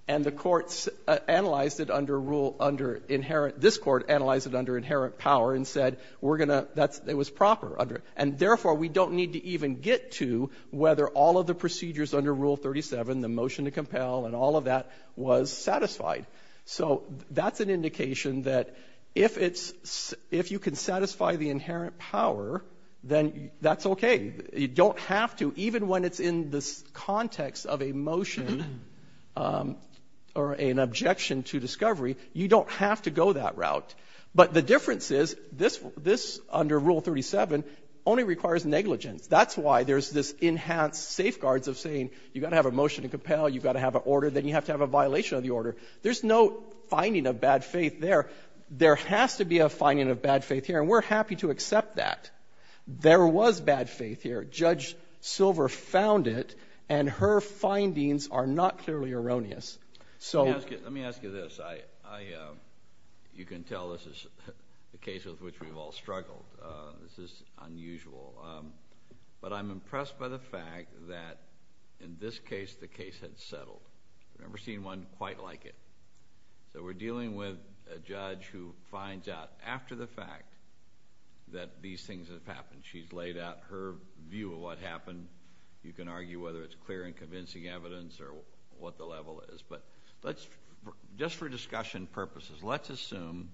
And the court analyzed it under rule, under inherent, this court analyzed it under inherent power, and said we're going to, it was proper. And therefore, we don't need to even get to whether all of the procedures under Rule 37, the motion to compel and all of that was satisfied. So that's an indication that if it's, if you can satisfy the inherent power, then that's okay. You don't have to, even when it's in the context of a motion or an objection to discovery, you don't have to go that route. But the difference is this, under Rule 37, only requires negligence. That's why there's this enhanced safeguards of saying you've got to have a motion to compel, you've got to have an order, then you have to have a violation of the order. There's no finding of bad faith there. There has to be a finding of bad faith here, and we're happy to accept that. There was bad faith here. Judge Silver found it, and her findings are not clearly erroneous. Let me ask you this. You can tell this is a case in which we've all struggled. This is unusual. But I'm impressed by the fact that in this case the case had settled. I've never seen one quite like it. We're dealing with a judge who finds out after the fact that these things have happened. She's laid out her view of what happened. You can argue whether it's clear and convincing evidence or what the level is. But just for discussion purposes, let's assume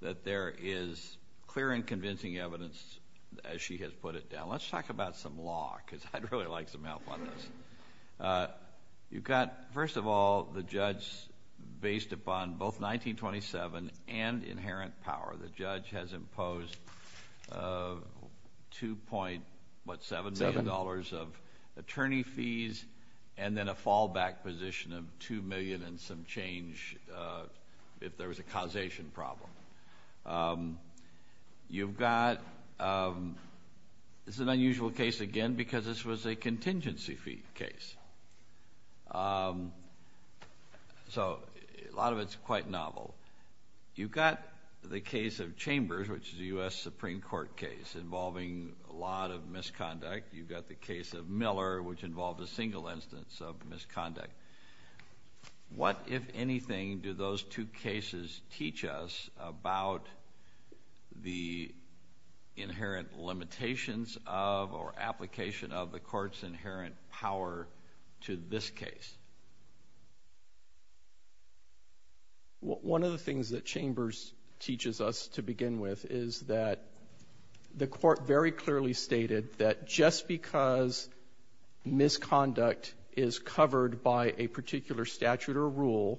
that there is clear and convincing evidence, as she has put it down. Let's talk about some law because I'd really like some help on this. You've got, first of all, the judge based upon both 1927 and inherent power. The judge has imposed $2.7 million of attorney fees and then a fallback position of $2 million and some change if there was a causation problem. This is an unusual case, again, because this was a contingency fee case. A lot of it is quite novel. You've got the case of Chambers, which is a U.S. Supreme Court case involving a lot of misconduct. You've got the case of Miller, which involved a single instance of misconduct. What, if anything, do those two cases teach us about the inherent limitations of or application of the court's inherent power to this case? One of the things that Chambers teaches us to begin with is that the court very clearly stated that just because misconduct is covered by a particular statute or rule,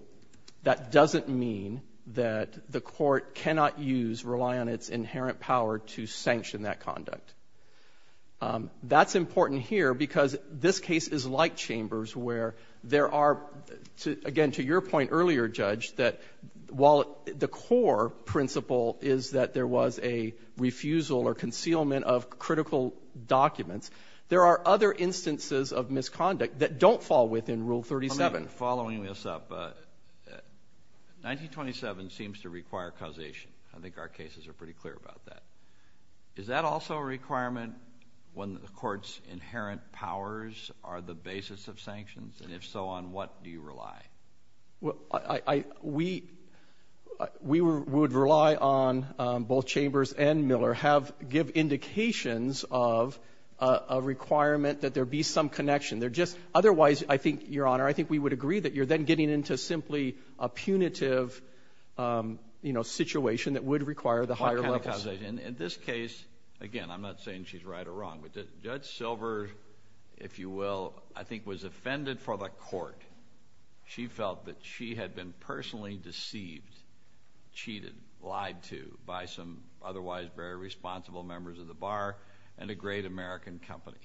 that doesn't mean that the court cannot use, rely on its inherent power to sanction that conduct. That's important here because this case is like Chambers where there are, again, to your point earlier, Judge, that while the core principle is that there was a refusal or concealment of critical documents, there are other instances of misconduct that don't fall within Rule 37. Following this up, 1927 seems to require causation. I think our cases are pretty clear about that. Is that also a requirement when the court's inherent powers are the basis of sanctions? And if so, on what do you rely? We would rely on both Chambers and Miller give indications of a requirement that there be some connection. Otherwise, I think, Your Honor, I think we would agree that you're then getting into simply a punitive situation that would require the higher levels. In this case, again, I'm not saying she's right or wrong, but Judge Silver, if you will, I think was offended for the court. She felt that she had been personally deceived, cheated, lied to by some otherwise very responsible members of the bar and a great American company.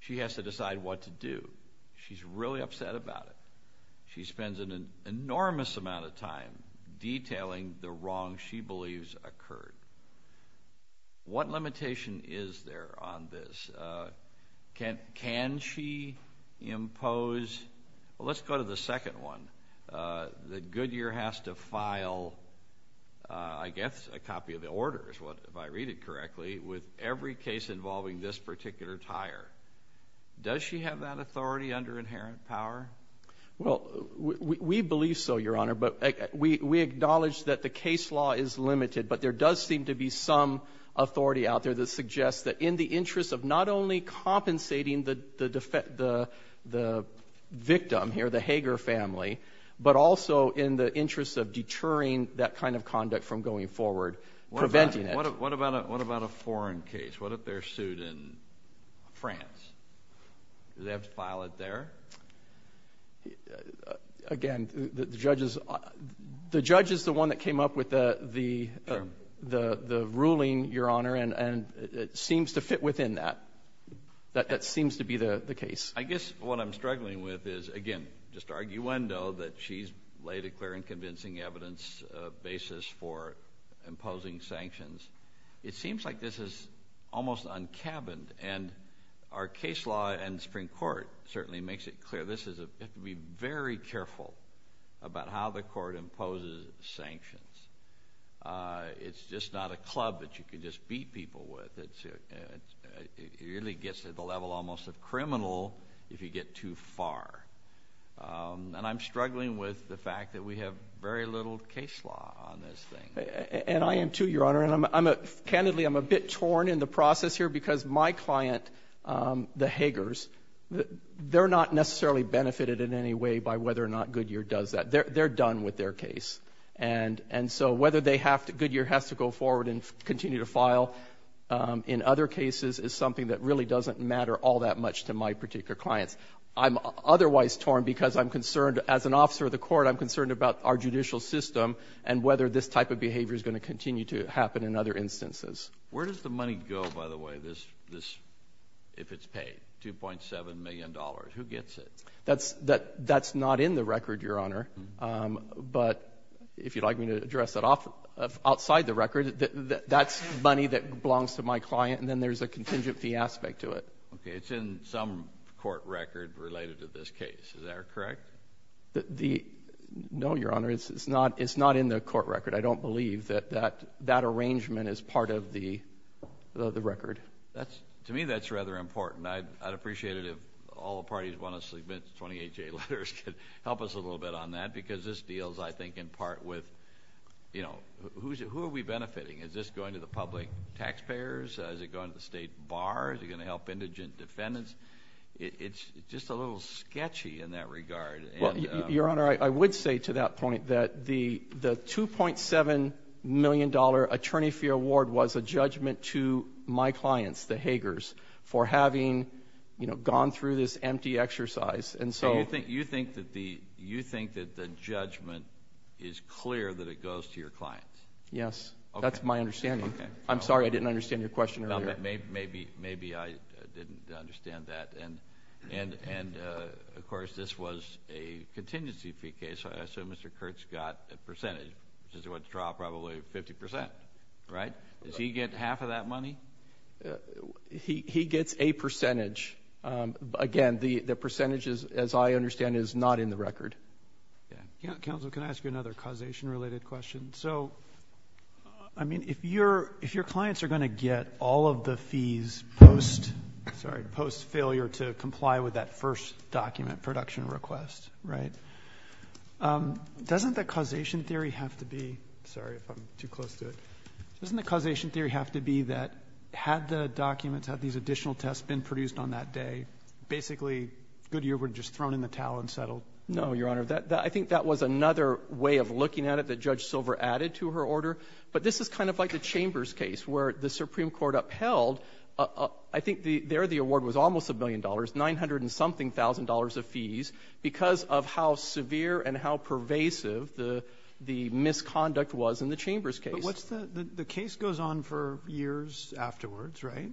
She has to decide what to do. She's really upset about it. She spends an enormous amount of time detailing the wrong she believes occurred. What limitation is there on this? Can she impose? Let's go to the second one. The Goodyear has to file, I guess, a copy of the orders, if I read it correctly, with every case involving this particular tire. Does she have that authority under inherent power? Well, we believe so, Your Honor, but we acknowledge that the case law is limited, but there does seem to be some authority out there that suggests that in the interest of not only compensating the victim here, the Hager family, but also in the interest of deterring that kind of conduct from going forward, preventing it. What about a foreign case? What if they're sued in France? Does it have to file it there? Again, the judge is the one that came up with the ruling, Your Honor, and it seems to fit within that. That seems to be the case. I guess what I'm struggling with is, again, just arguendo that she's laid a clear and convincing evidence basis for imposing sanctions. It seems like this is almost un-cabined, and our case law and Supreme Court certainly makes it clear. We have to be very careful about how the court imposes sanctions. It's just not a club that you can just beat people with. It really gets to the level almost of criminal if you get too far, and I'm struggling with the fact that we have very little case law on this thing. And I am too, Your Honor, and candidly I'm a bit torn in the process here because my client, the Hagers, they're not necessarily benefited in any way by whether or not Goodyear does that. They're done with their case, and so whether Goodyear has to go forward and continue to file in other cases is something that really doesn't matter all that much to my particular clients. I'm otherwise torn because I'm concerned, as an officer of the court, I'm concerned about our judicial system and whether this type of behavior is going to continue to happen in other instances. Where does the money go, by the way, if it's paid, $2.7 million? Who gets it? That's not in the record, Your Honor, but if you'd like me to address that outside the record, that's money that belongs to my client, and then there's a contingency aspect to it. Okay, it's in some court record related to this case. Is that correct? No, Your Honor, it's not in the court record. I don't believe that that arrangement is part of the record. To me, that's rather important. I'd appreciate it if all the parties who want to submit 28-J letters could help us a little bit on that because this deals, I think, in part with who are we benefiting? Is this going to the public taxpayers? Is it going to the state bar? Is it going to help indigent defendants? It's just a little sketchy in that regard. Your Honor, I would say to that point that the $2.7 million attorney fee award was a judgment to my clients, the Hagers, for having gone through this empty exercise. You think that the judgment is clear that it goes to your client? Yes, that's my understanding. I'm sorry, I didn't understand your question earlier. Maybe I didn't understand that. And, of course, this was a contingency fee case, so Mr. Kurtz got a percentage, which is what dropped probably 50%, right? Does he get half of that money? He gets a percentage. Again, the percentage, as I understand it, is not in the record. Counsel, can I ask you another causation-related question? So, I mean, if your clients are going to get all of the fees post-failure to comply with that first document production request, right, doesn't the causation theory have to be that had the documents, had these additional tests been produced on that day, basically Goodyear would have just thrown in the towel and settled? No, Your Honor, I think that was another way of looking at it that Judge Silver added to her order, but this is kind of like the Chambers case where the Supreme Court upheld, I think there the award was almost $1 million, $900-and-something thousand dollars of fees because of how severe and how pervasive the misconduct was in the Chambers case. But the case goes on for years afterwards, right?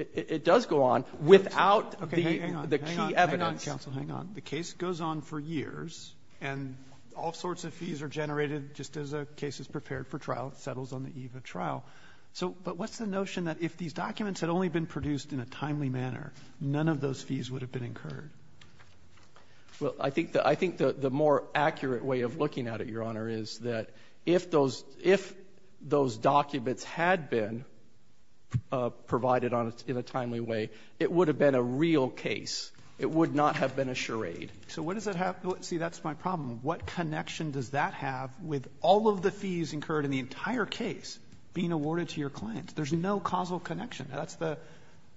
It does go on without the key evidence. Hang on, Counsel, hang on. The case goes on for years, and all sorts of fees are generated just as the case is prepared for trial, settles on the eve of trial. But what's the notion that if these documents had only been produced in a timely manner, none of those fees would have been incurred? Well, I think the more accurate way of looking at it, Your Honor, is that if those documents had been provided in a timely way, it would have been a real case. It would not have been a charade. So what does that have to do? See, that's my problem. What connection does that have with all of the fees incurred in the entire case being awarded to your client? There's no causal connection.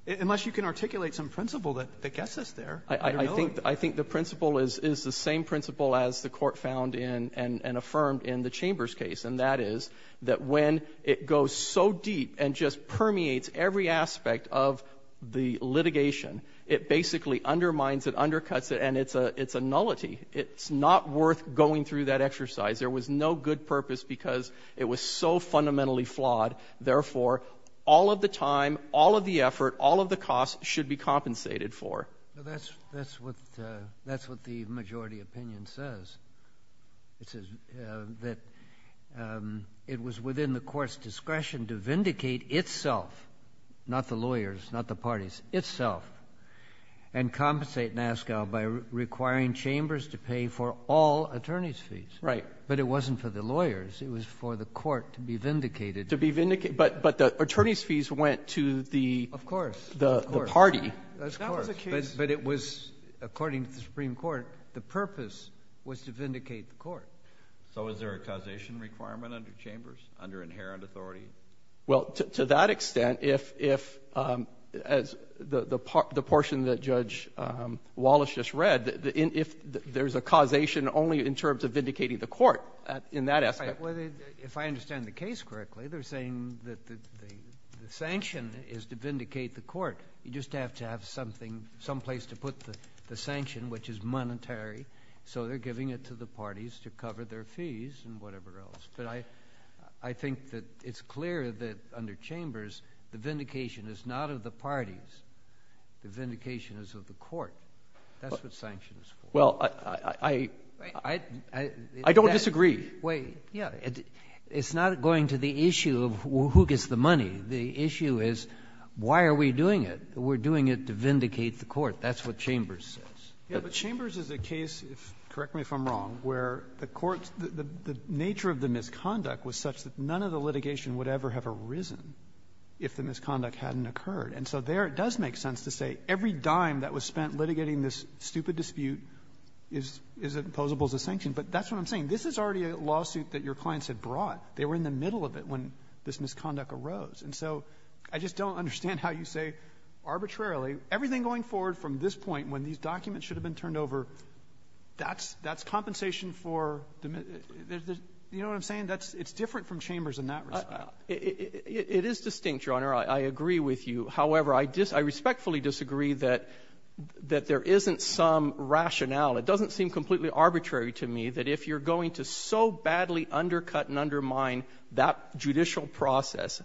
Unless you can articulate some principle that gets us there. I think the principle is the same principle as the court found and affirmed in the Chambers case, and that is that when it goes so deep and just permeates every aspect of the litigation, it basically undermines it, undercuts it, and it's a nullity. It's not worth going through that exercise. There was no good purpose because it was so fundamentally flawed. Therefore, all of the time, all of the effort, all of the cost should be compensated for. That's what the majority opinion says. It says that it was within the court's discretion to vindicate itself, not the lawyers, not the parties, itself, and compensate NASSCO by requiring Chambers to pay for all attorney's fees. But it wasn't for the lawyers. It was for the court to be vindicated. But the attorney's fees went to the party. But it was, according to the Supreme Court, the purpose was to vindicate the court. So is there a causation requirement under Chambers, under inherent authority? Well, to that extent, if the portion that Judge Wallace just read, if there's a causation only in terms of vindicating the court in that aspect. If I understand the case correctly, they're saying that the sanction is to vindicate the court. You just have to have something, someplace to put the sanction, which is monetary. So they're giving it to the parties to cover their fees and whatever else. But I think that it's clear that under Chambers, the vindication is not of the parties. The vindication is of the court. That's what sanctions are for. I don't disagree. It's not going to the issue of who gets the money. The issue is, why are we doing it? We're doing it to vindicate the court. That's what Chambers says. But Chambers is a case, correct me if I'm wrong, where the nature of the misconduct was such that none of the litigation would ever have arisen if the misconduct hadn't occurred. And so there it does make sense to say, every dime that was spent litigating this stupid dispute is as opposable as a sanction. But that's what I'm saying. This is already a lawsuit that your clients had brought. They were in the middle of it when this misconduct arose. And so I just don't understand how you say, arbitrarily, everything going forward from this point, when these documents should have been turned over, that's compensation for the misconduct. You know what I'm saying? It's different from Chambers in that regard. It is distinct, Your Honor. I agree with you. However, I respectfully disagree that there isn't some rationale. It doesn't seem completely arbitrary to me that if you're going to so badly undercut and undermine that judicial process,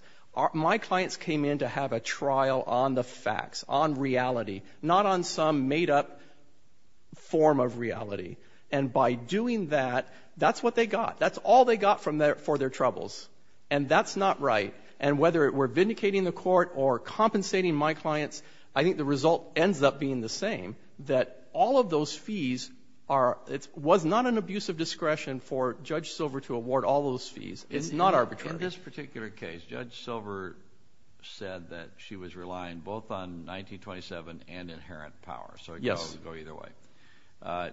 my clients came in to have a trial on the facts, on reality, not on some made-up form of reality. And by doing that, that's what they got. That's all they got for their troubles. And that's not right. And whether it were vindicating the court or compensating my clients, I think the result ends up being the same, that all of those fees was not an abuse of discretion for Judge Silver to award all those fees. It's not arbitrary. In this particular case, Judge Silver said that she was relying both on 1927 and inherent power, so it could go either way.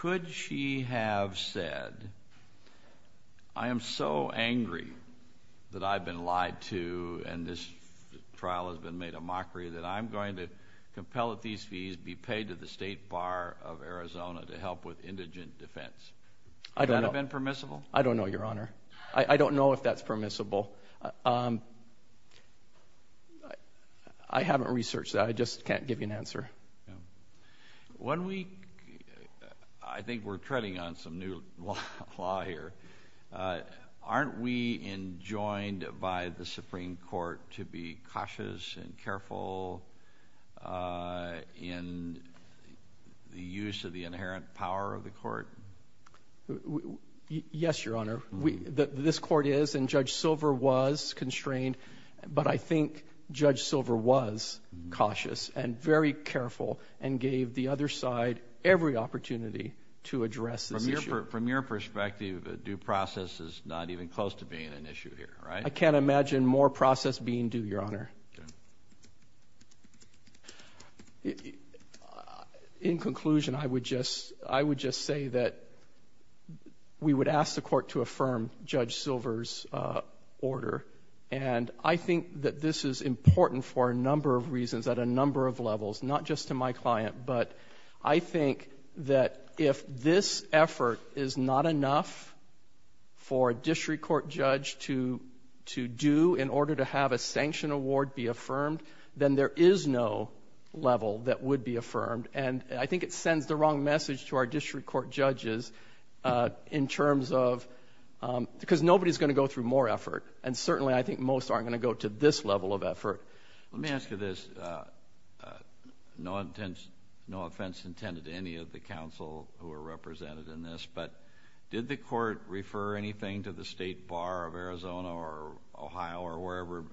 Could she have said, I am so angry that I've been lied to and this trial has been made a mockery that I'm going to compel that these fees be paid to the State Bar of Arizona to help with indigent defense? Would that have been permissible? I don't know, Your Honor. I don't know if that's permissible. I haven't researched that. I just can't give you an answer. When we... I think we're treading on some new law here. Aren't we enjoined by the Supreme Court to be cautious and careful in the use of the inherent power of the court? Yes, Your Honor. This court is, and Judge Silver was constrained, but I think Judge Silver was cautious and very careful and gave the other side every opportunity to address this issue. From your perspective, due process is not even close to being an issue here, right? I can't imagine more process being due, Your Honor. In conclusion, I would just say that we would ask the court to affirm Judge Silver's order, and I think that this is important for a number of reasons at a number of levels, not just to my client, but I think that if this effort is not enough for a district court judge to do in order to have a sanction award be affirmed, then there is no level that would be affirmed, and I think it sends the wrong message to our district court judges in terms of, because nobody's going to go through more effort, and certainly I think most aren't going to go to this level of effort. Let me ask you this. No offense intended to any of the counsel who are represented in this, but did the court refer anything to the State Bar of Arizona or Ohio or wherever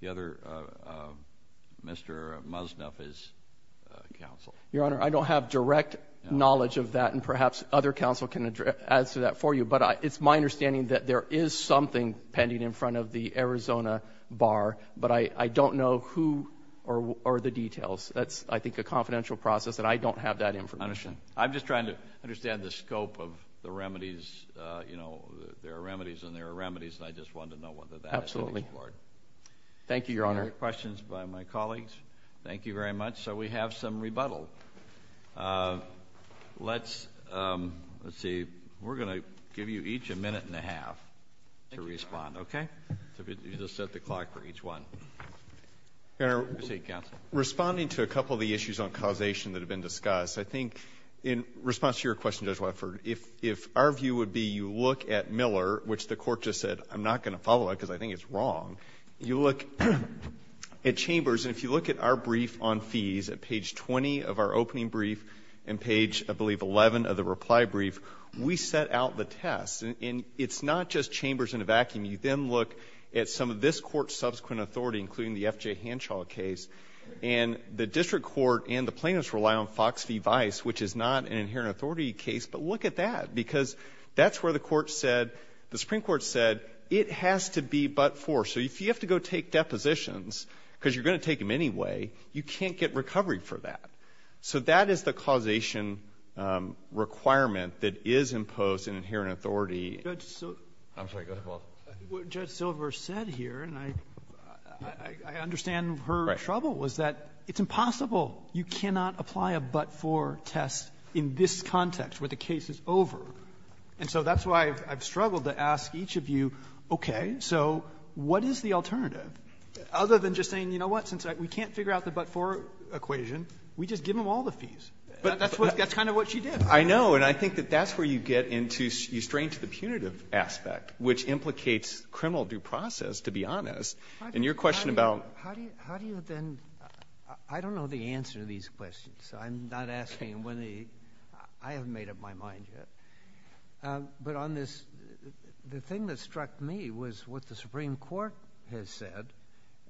the other Mr. Musnaf is counsel? Your Honor, I don't have direct knowledge of that, and perhaps other counsel can answer that for you, but it's my understanding that there is something pending in front of the Arizona Bar, but I don't know who or the details. That's, I think, a confidential process, and I don't have that information. I'm just trying to understand the scope of the remedies. You know, there are remedies, and there are remedies, and I just wanted to know whether that is the case. Absolutely. Thank you, Your Honor. Any questions by my colleagues? Thank you very much. So we have some rebuttals. Let's see. We're going to give you each a minute and a half to respond, okay? You just set the clock for each one. Let's see, counsel. Responding to a couple of the issues on causation that have been discussed, I think in response to your question, Judge Webford, if our view would be you look at Miller, which the court just said I'm not going to follow that because I think it's wrong. You look at Chambers, and if you look at our brief on fees, at page 20 of our opening brief and page, I believe, 11 of the reply brief, we set out the test. And it's not just Chambers in a vacuum. You then look at some of this court's subsequent authority, including the F.J. Hanshaw case, and the district court and the plaintiffs rely on Fox v. Vice, which is not an inherent authority case, but look at that because that's where the court said the Supreme Court said it has to be but-for. So if you have to go take depositions, because you're going to take them anyway, you can't get recovery for that. So that is the causation requirement that is imposed in inherent authority. Judge Silver said here, and I understand her trouble, was that it's impossible. You cannot apply a but-for test in this context where the case is over. And so that's why I've struggled to ask each of you, okay, so what is the alternative? Other than just saying, you know what, since we can't figure out the but-for equation, we just give them all the fees. But that's kind of what she did. I know, and I think that that's where you get into, you strain to the punitive aspect, which implicates criminal due process, to be honest. And your question about... How do you then... I don't know the answer to these questions, so I'm not asking whether you... I haven't made up my mind yet. But on this... The thing that struck me was what the Supreme Court has said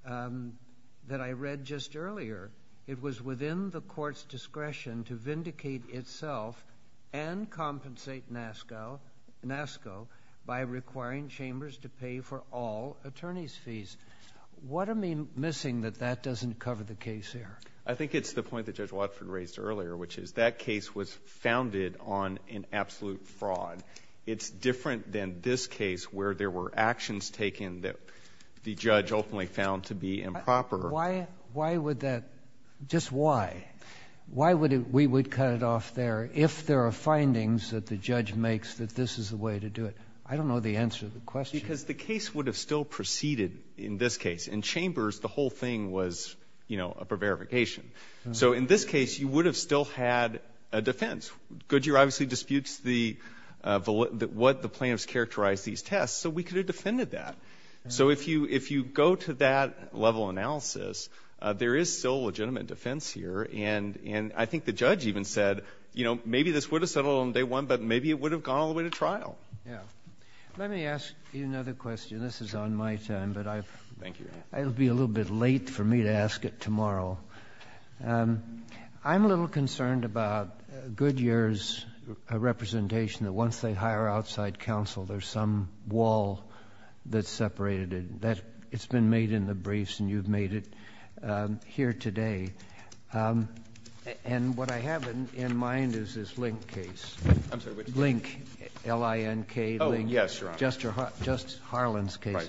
that I read just earlier. It was within the court's discretion to vindicate itself and compensate NASCO by requiring chambers to pay for all attorney's fees. What am I missing that that doesn't cover the case here? I think it's the point that Judge Watford raised earlier, which is that case was founded on an absolute fraud. It's different than this case, where there were actions taken that the judge ultimately found to be improper. Why would that... Just why? Why would we cut it off there if there are findings that the judge makes that this is the way to do it? I don't know the answer to the question. Because the case would have still proceeded in this case. In chambers, the whole thing was, you know, for verification. So in this case, you would have still had a defense. Goodyear obviously disputes what the plaintiffs characterized these tests, so we could have defended that. So if you go to that level analysis, there is still legitimate defense here. And I think the judge even said, you know, maybe this would have settled on day one, but maybe it would have gone all the way to trial. Let me ask you another question. This is on my time, but I... Thank you. It'll be a little bit late for me to ask it tomorrow. I'm a little concerned about Goodyear's representation that once they hire outside counsel, there's some wall that's separated it. It's been made in the briefs, and you've made it here today. And what I have in mind is this Link case. I'm sorry, what did you say? Link, L-I-N-K. Oh, yes, Your Honor. Just Harlan's case.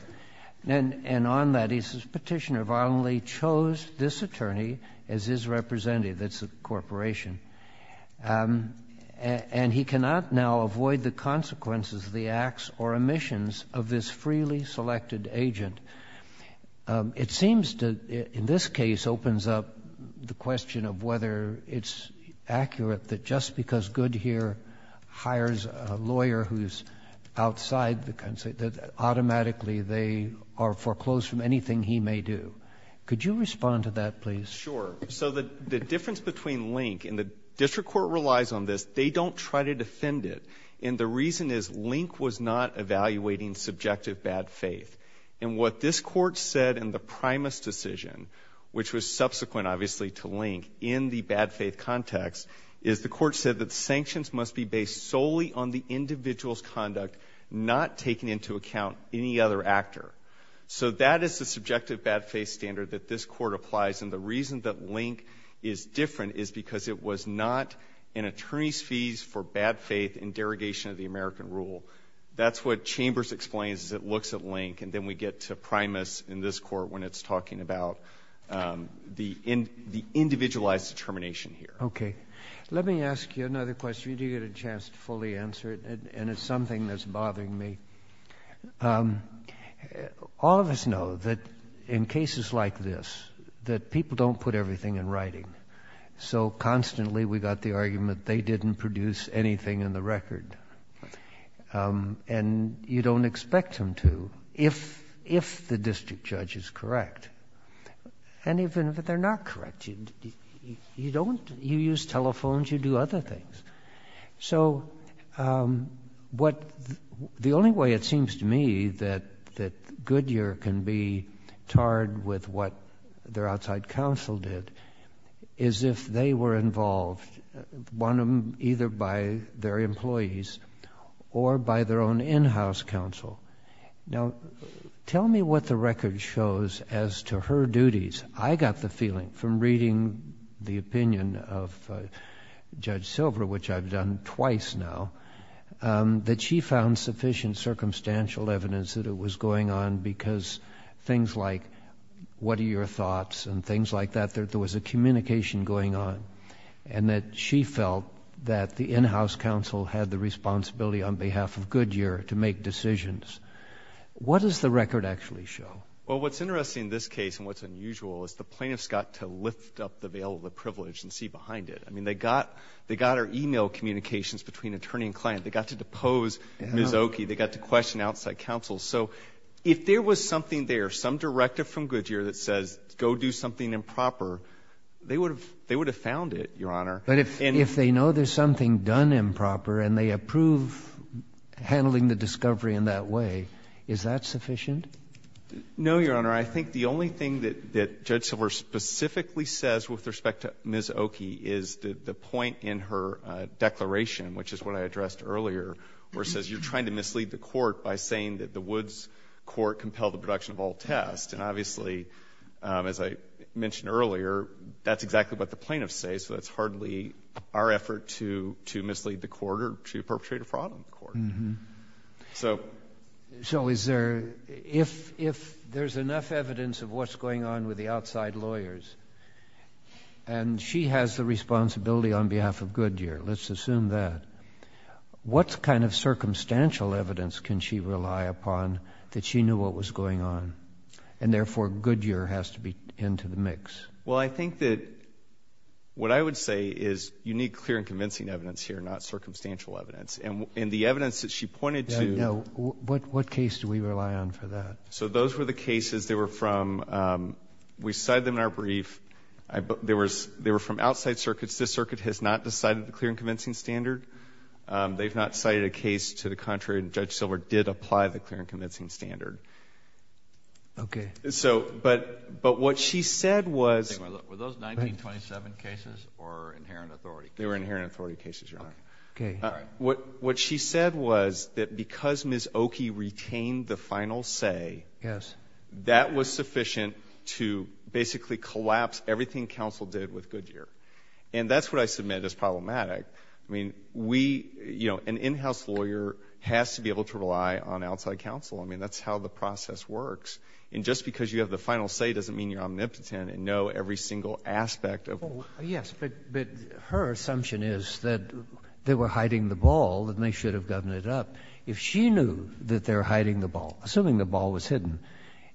And on that, he says, Petitioner violently chose this attorney as his representative. It's a corporation. And he cannot now avoid the consequences, the acts or omissions of this freely selected agent. It seems that in this case opens up the question of whether it's accurate that just because Goodyear hires a lawyer who's outside the... that automatically they are foreclosed from anything he may do. Could you respond to that, please? Sure. So the difference between Link, and the district court relies on this, they don't try to defend it. And the reason is Link was not evaluating subjective bad faith. And what this court said in the Primus decision, which was subsequent, obviously, to Link, in the bad faith context, is the court said that sanctions must be based solely on the individual's conduct, not taking into account any other actor. So that is the subjective bad faith standard that this court applies. And the reason that Link is different is because it was not an attorney's fees for bad faith in derogation of the American rule. That's what Chambers explains as it looks at Link, and then we get to Primus in this court when it's talking about the individualized determination here. Okay. Let me ask you another question. You do get a chance to fully answer it, and it's something that's bothering me. All of us know that in cases like this, that people don't put everything in writing. So constantly we got the argument they didn't produce anything in the record. And you don't expect them to, if the district judge is correct. And even if they're not correct, you use telephones, you do other things. So the only way it seems to me that Goodyear can be tarred with what their outside counsel did is if they were involved, either by their employees or by their own in-house counsel. Now, tell me what the record shows as to her duties. I got the feeling from reading the opinion of Judge Silver, which I've done twice now, that she found sufficient circumstantial evidence that it was going on because things like, what are your thoughts and things like that, there was a communication going on, and that she felt that the in-house counsel had the responsibility on behalf of Goodyear to make decisions. What does the record actually show? Well, what's interesting in this case and what's unusual is the plaintiffs got to lift up the veil of the privilege and see behind it. I mean, they got her email communications between attorney and client. They got to depose Ms. Oakey. They got to question outside counsel. So if there was something there, some directive from Goodyear that says, go do something improper, they would have found it, Your Honor. But if they know there's something done improper and they approve handling the discovery in that way, is that sufficient? No, Your Honor. I think the only thing that Judge Silver specifically says with respect to Ms. Oakey is the point in her declaration, which is what I addressed earlier, where it says you're trying to mislead the court by saying that the Woods court compelled the production of all tests. And obviously, as I mentioned earlier, that's exactly what the plaintiffs say, so that's hardly our effort to mislead the court or to perpetrate a fraud on the court. So is there... If there's enough evidence of what's going on with the outside lawyers and she has the responsibility on behalf of Goodyear, let's assume that, what kind of circumstantial evidence can she rely upon that she knew what was going on and therefore Goodyear has to be into the mix? Well, I think that what I would say is you need clear and convincing evidence here, not circumstantial evidence. And the evidence that she pointed to... Yeah, yeah. What case do we rely on for that? So those were the cases. They were from... We cited them in our brief. They were from outside circuits. This circuit has not decided the clear and convincing standard. They've not cited a case to the contrary, and Judge Silver did apply the clear and convincing standard. Okay. So, but what she said was... Were those 1927 cases or inherent authority? They were inherent authority cases, Your Honor. Okay. What she said was that because Ms. Oki retained the final say... Yes. ...that was sufficient to basically collapse everything counsel did with Goodyear. And that's what I submit as problematic. I mean, we, you know, an in-house lawyer has to be able to rely on outside counsel. I mean, that's how the process works. And just because you have the final say doesn't mean you're omnipotent and know every single aspect of... Yes, but her assumption is that they were hiding the ball and they should have gotten it up. If she knew that they were hiding the ball, assuming the ball was hidden,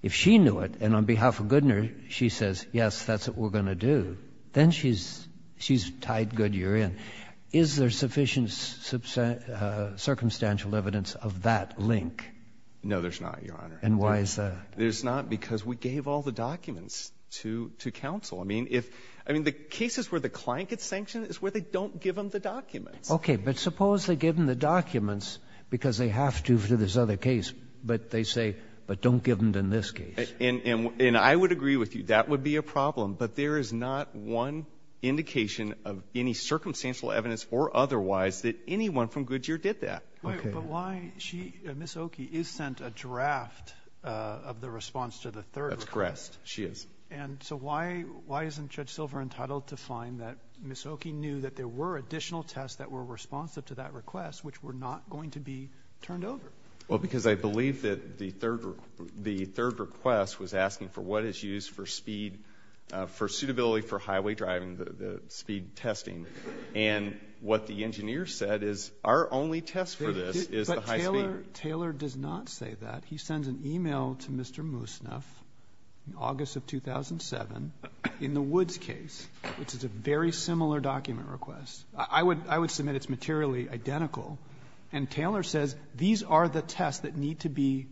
if she knew it and on behalf of Goodyear, she says, yes, that's what we're going to do, then she's tied Goodyear in. Is there sufficient circumstantial evidence of that link? No, there's not, Your Honor. And why is that? There's not because we gave all the documents to counsel. I mean, the cases where the client gets sanctioned is where they don't give them the documents. Okay, but suppose they give them the documents because they have to for this other case, but they say, but don't give them in this case. And I would agree with you, that would be a problem, but there is not one indication of any circumstantial evidence or otherwise that anyone from Goodyear did that. But why... Ms. Okie is sent a draft of the response to the third request. That's correct, she is. And so why isn't Judge Silver entitled to find that Ms. Okie knew that there were additional tests that were responsive to that request which were not going to be turned over? Well, because I believe that the third request was asking for what is used for speed, for suitability for highway driving, the speed testing. And what the engineer said is, our only test for this is the high speed. But Taylor does not say that. He sends an email to Mr. Musnef in August of 2007 in the Woods case, which is a very similar document request. I would submit it's materially identical. And Taylor says these are the tests that need to be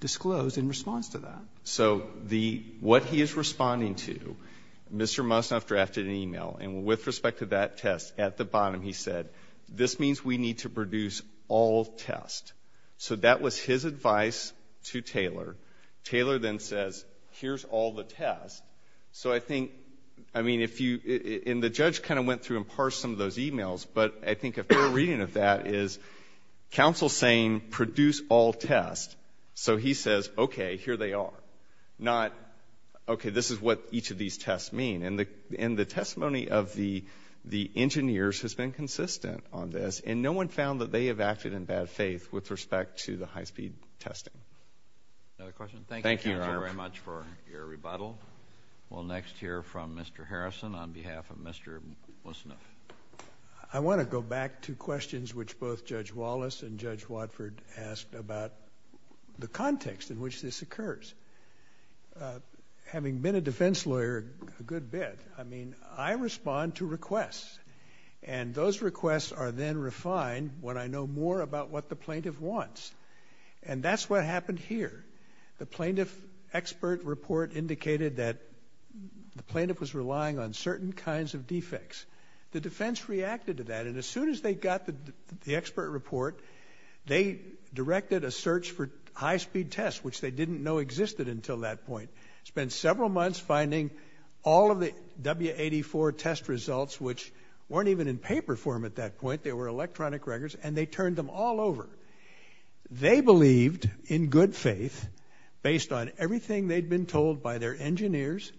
disclosed in response to that. So what he is responding to, Mr. Musnef drafted an email, and with respect to that test, at the bottom he said, this means we need to produce all tests. So that was his advice to Taylor. Taylor then says, here's all the tests. So I think, I mean, if you... And the judge kind of went through and parsed some of those emails, but I think a fair reading of that is counsel saying, produce all tests. So he says, okay, here they are. Not, okay, this is what each of these tests mean. And the testimony of the engineers has been consistent on this. And no one found that they have acted in bad faith with respect to the high-speed testing. Another question? Thank you very much for your rebuttal. We'll next hear from Mr. Harrison on behalf of Mr. Musnef. I want to go back to questions which both Judge Wallace and Judge Watford asked about the context in which this occurs. Having been a defense lawyer a good bit, I mean, I respond to requests. And those requests are then refined when I know more about what the plaintiff wants. And that's what happened here. The plaintiff expert report indicated that the plaintiff was relying on certain kinds of defects. The defense reacted to that. And as soon as they got the expert report, they directed a search for high-speed tests, which they didn't know existed until that point. Spent several months finding all of the W84 test results, which weren't even in paper form at that point. They were electronic records, and they turned them all over. They believed, in good faith, based on everything they'd been told by their engineers,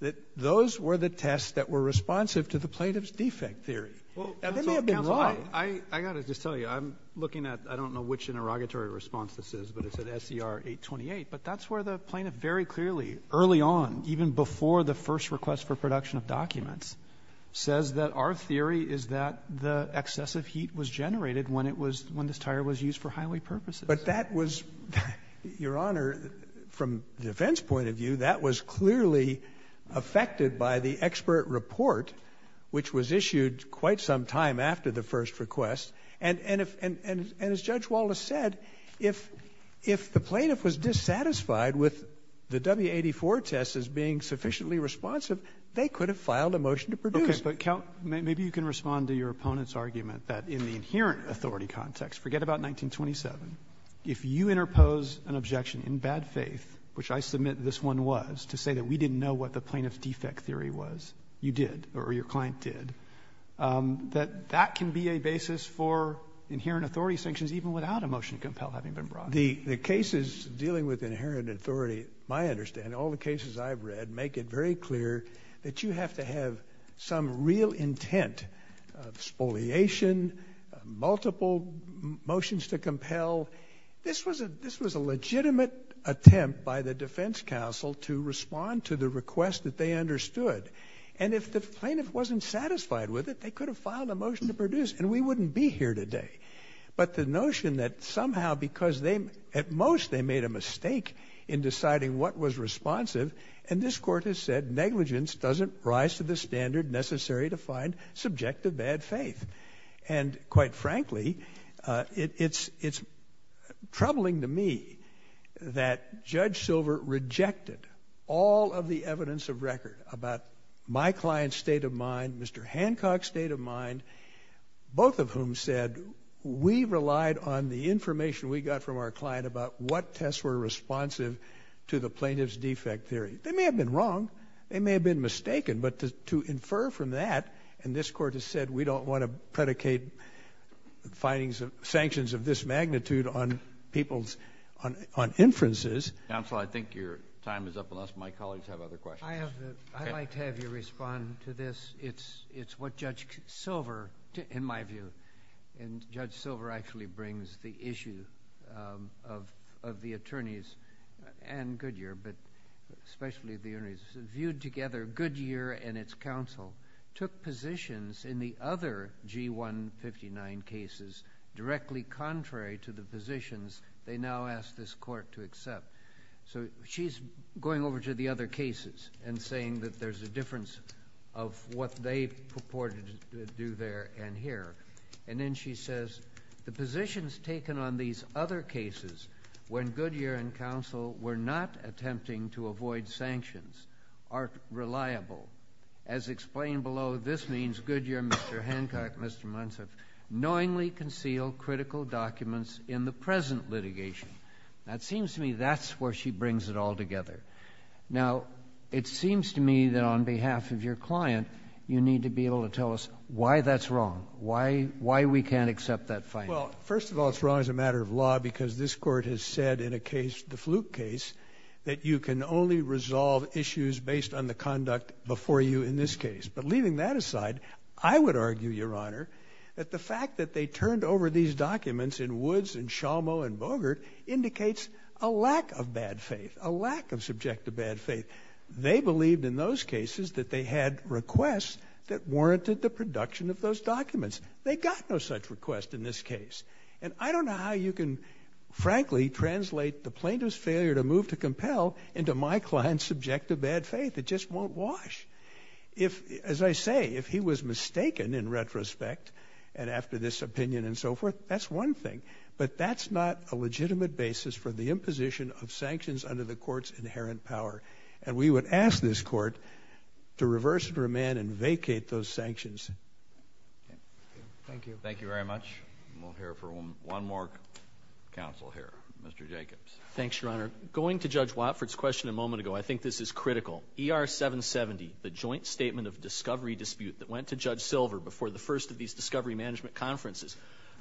that those were the tests that were responsive to the plaintiff's defect theory. And they may have been wrong. I got to just tell you, I'm looking at... I don't know which interrogatory response this is, but it said SDR 828. But that's where the plaintiff very clearly, early on, even before the first request for production of documents, says that our theory is that the excessive heat was generated when this tire was used for highway purposes. But that was... Your Honor, from the defense point of view, that was clearly affected by the expert report, which was issued quite some time after the first request. And as Judge Wallace said, if the plaintiff was dissatisfied with the W84 tests as being sufficiently responsive, they could have filed a motion to produce. Okay, but count... Maybe you can respond to your opponent's argument that in the inherent authority context, forget about 1927, if you interpose an objection in bad faith, which I submit this one was, to say that we didn't know what the plaintiff's defect theory was, you did, or your client did, that that can be a basis for inherent authority sanctions even without a motion to compel having been brought. The cases dealing with inherent authority, my understanding, all the cases I've read, make it very clear that you have to have some real intent, spoliation, multiple motions to compel. This was a legitimate attempt by the defense counsel to respond to the request that they understood. And if the plaintiff wasn't satisfied with it, they could have filed a motion to produce, and we wouldn't be here today. But the notion that somehow because they... At most, they made a mistake in deciding what was responsive, and this court has said, negligence doesn't rise to the standard necessary to find subjective bad faith. And quite frankly, it's troubling to me that Judge Silver rejected all of the evidence of record about my client's state of mind, Mr. Hancock's state of mind, both of whom said, we relied on the information we got from our client about what tests were responsive to the plaintiff's defect theory. They may have been wrong, they may have been mistaken, but to infer from that, and this court has said, we don't want to predicate sanctions of this magnitude on inferences... Counsel, I think your time is up, unless my colleagues have other questions. I'd like to have you respond to this. It's what Judge Silver, in my view, and Judge Silver actually brings the issue of the attorneys, and Goodyear, but especially the attorneys, viewed together, Goodyear and its counsel took positions in the other G159 cases directly contrary to the positions they now ask this court to accept. So she's going over to the other cases and saying that there's a difference of what they purported to do there and here. And then she says, the positions taken on these other cases, when Goodyear and counsel were not attempting to avoid sanctions, are reliable. As explained below, this means Goodyear, Mr. Hancock, Mr. Munson, knowingly concealed critical documents in the present litigation. It seems to me that's where she brings it all together. Now, it seems to me that on behalf of your client, you need to be able to tell us why that's wrong, why we can't accept that finding. Well, first of all, it's wrong as a matter of law because this court has said in a case, the Fluke case, that you can only resolve issues based on the conduct before you in this case. But leaving that aside, I would argue, Your Honor, that the fact that they turned over these documents in Woods and Shamo and Bogart indicates a lack of bad faith, a lack of subjective bad faith. They believed in those cases that they had requests that warranted the production of those documents. They got no such request in this case. And I don't know how you can, frankly, translate the plaintiff's failure to move to compel into my client's subjective bad faith. It just won't wash. As I say, if he was mistaken in retrospect, and after this opinion and so forth, that's one thing. But that's not a legitimate basis for the imposition of sanctions under the court's inherent power. And we would ask this court to reverse her man and vacate those sanctions. Thank you. Thank you very much. We'll hear from one more counsel here. Mr. Jacobs. Thanks, Your Honor. Going to Judge Watford's question a moment ago, I think this is critical. ER-770, the joint statement of discovery dispute that went to Judge Silver before the first of these discovery management conferences,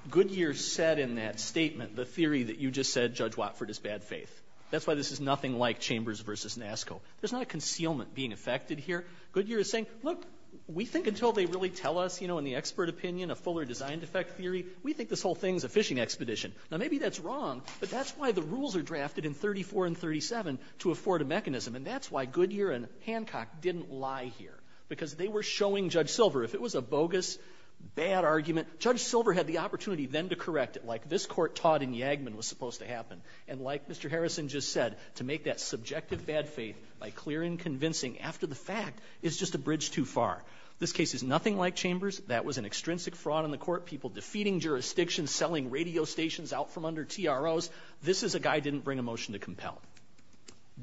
Goodyear said in that statement the theory that you just said Judge Watford is bad faith. That's why this is nothing like Chambers v. Nasko. There's not a concealment being affected here. Goodyear is saying, look, we think until they really tell us, you know, in the expert opinion, a fuller design defect theory, we think this whole thing is a fishing expedition. Now, maybe that's wrong, but that's why the rules are drafted in 34 and 37 to afford a mechanism. And that's why Goodyear and Hancock didn't lie here, because they were showing Judge Silver, if it was a bogus, bad argument, Judge Silver had the opportunity then to correct it, like this court taught in Yagman was supposed to happen. And like Mr. Harrison just said, to make that subjective bad faith by clear and convincing after the fact is just a bridge too far. This case is nothing like Chambers. That was an extrinsic fraud on the court, people defeating jurisdictions, selling radio stations out from under TROs. This is a guy who didn't bring a motion to compel.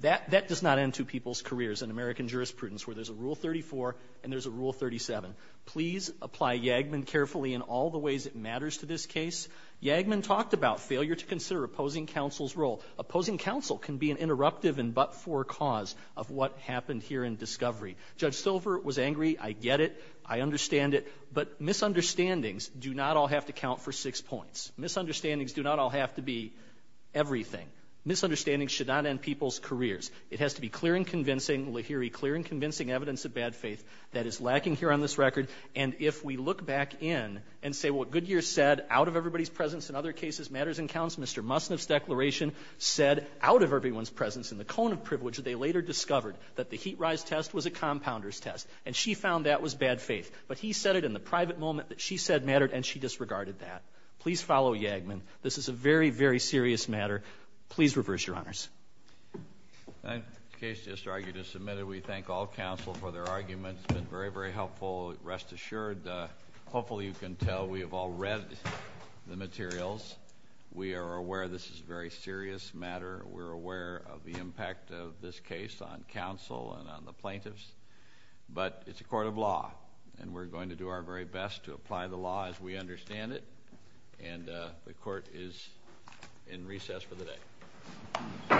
That does not end two people's careers in American jurisprudence where there's a rule 34 and there's a rule 37. Please apply Yagman carefully in all the ways it matters to this case. Yagman talked about failure to consider opposing counsel's role. Opposing counsel can be an interruptive and but-for cause of what happened here in discovery. Judge Silver was angry. I get it. I understand it. But misunderstandings do not all have to count for six points. Misunderstandings do not all have to be everything. Misunderstandings should not end people's careers. It has to be clear and convincing, we hear a clear and convincing evidence of bad faith that is lacking here on this record, and if we look back in and say what Goodyear said out of everybody's presence in other cases matters and counts, Mr. Musniff's declaration said out of everyone's presence in the cone of privilege that they later discovered that the heat rise test was a compounder's test, and she found that was bad faith. But he said it in the private moment that she said mattered, and she disregarded that. Please follow Yagman. This is a very, very serious matter. Please reverse, Your Honors. That case just argued is submitted. We thank all counsel for their arguments. They've been very, very helpful, rest assured. Hopefully you can tell we have all read the materials. We are aware this is a very serious matter. We're aware of the impact of this case on counsel and on the plaintiffs, but it's a court of law, and we're going to do our very best to apply the law as we understand it, and the court is in recess for the day. All rise.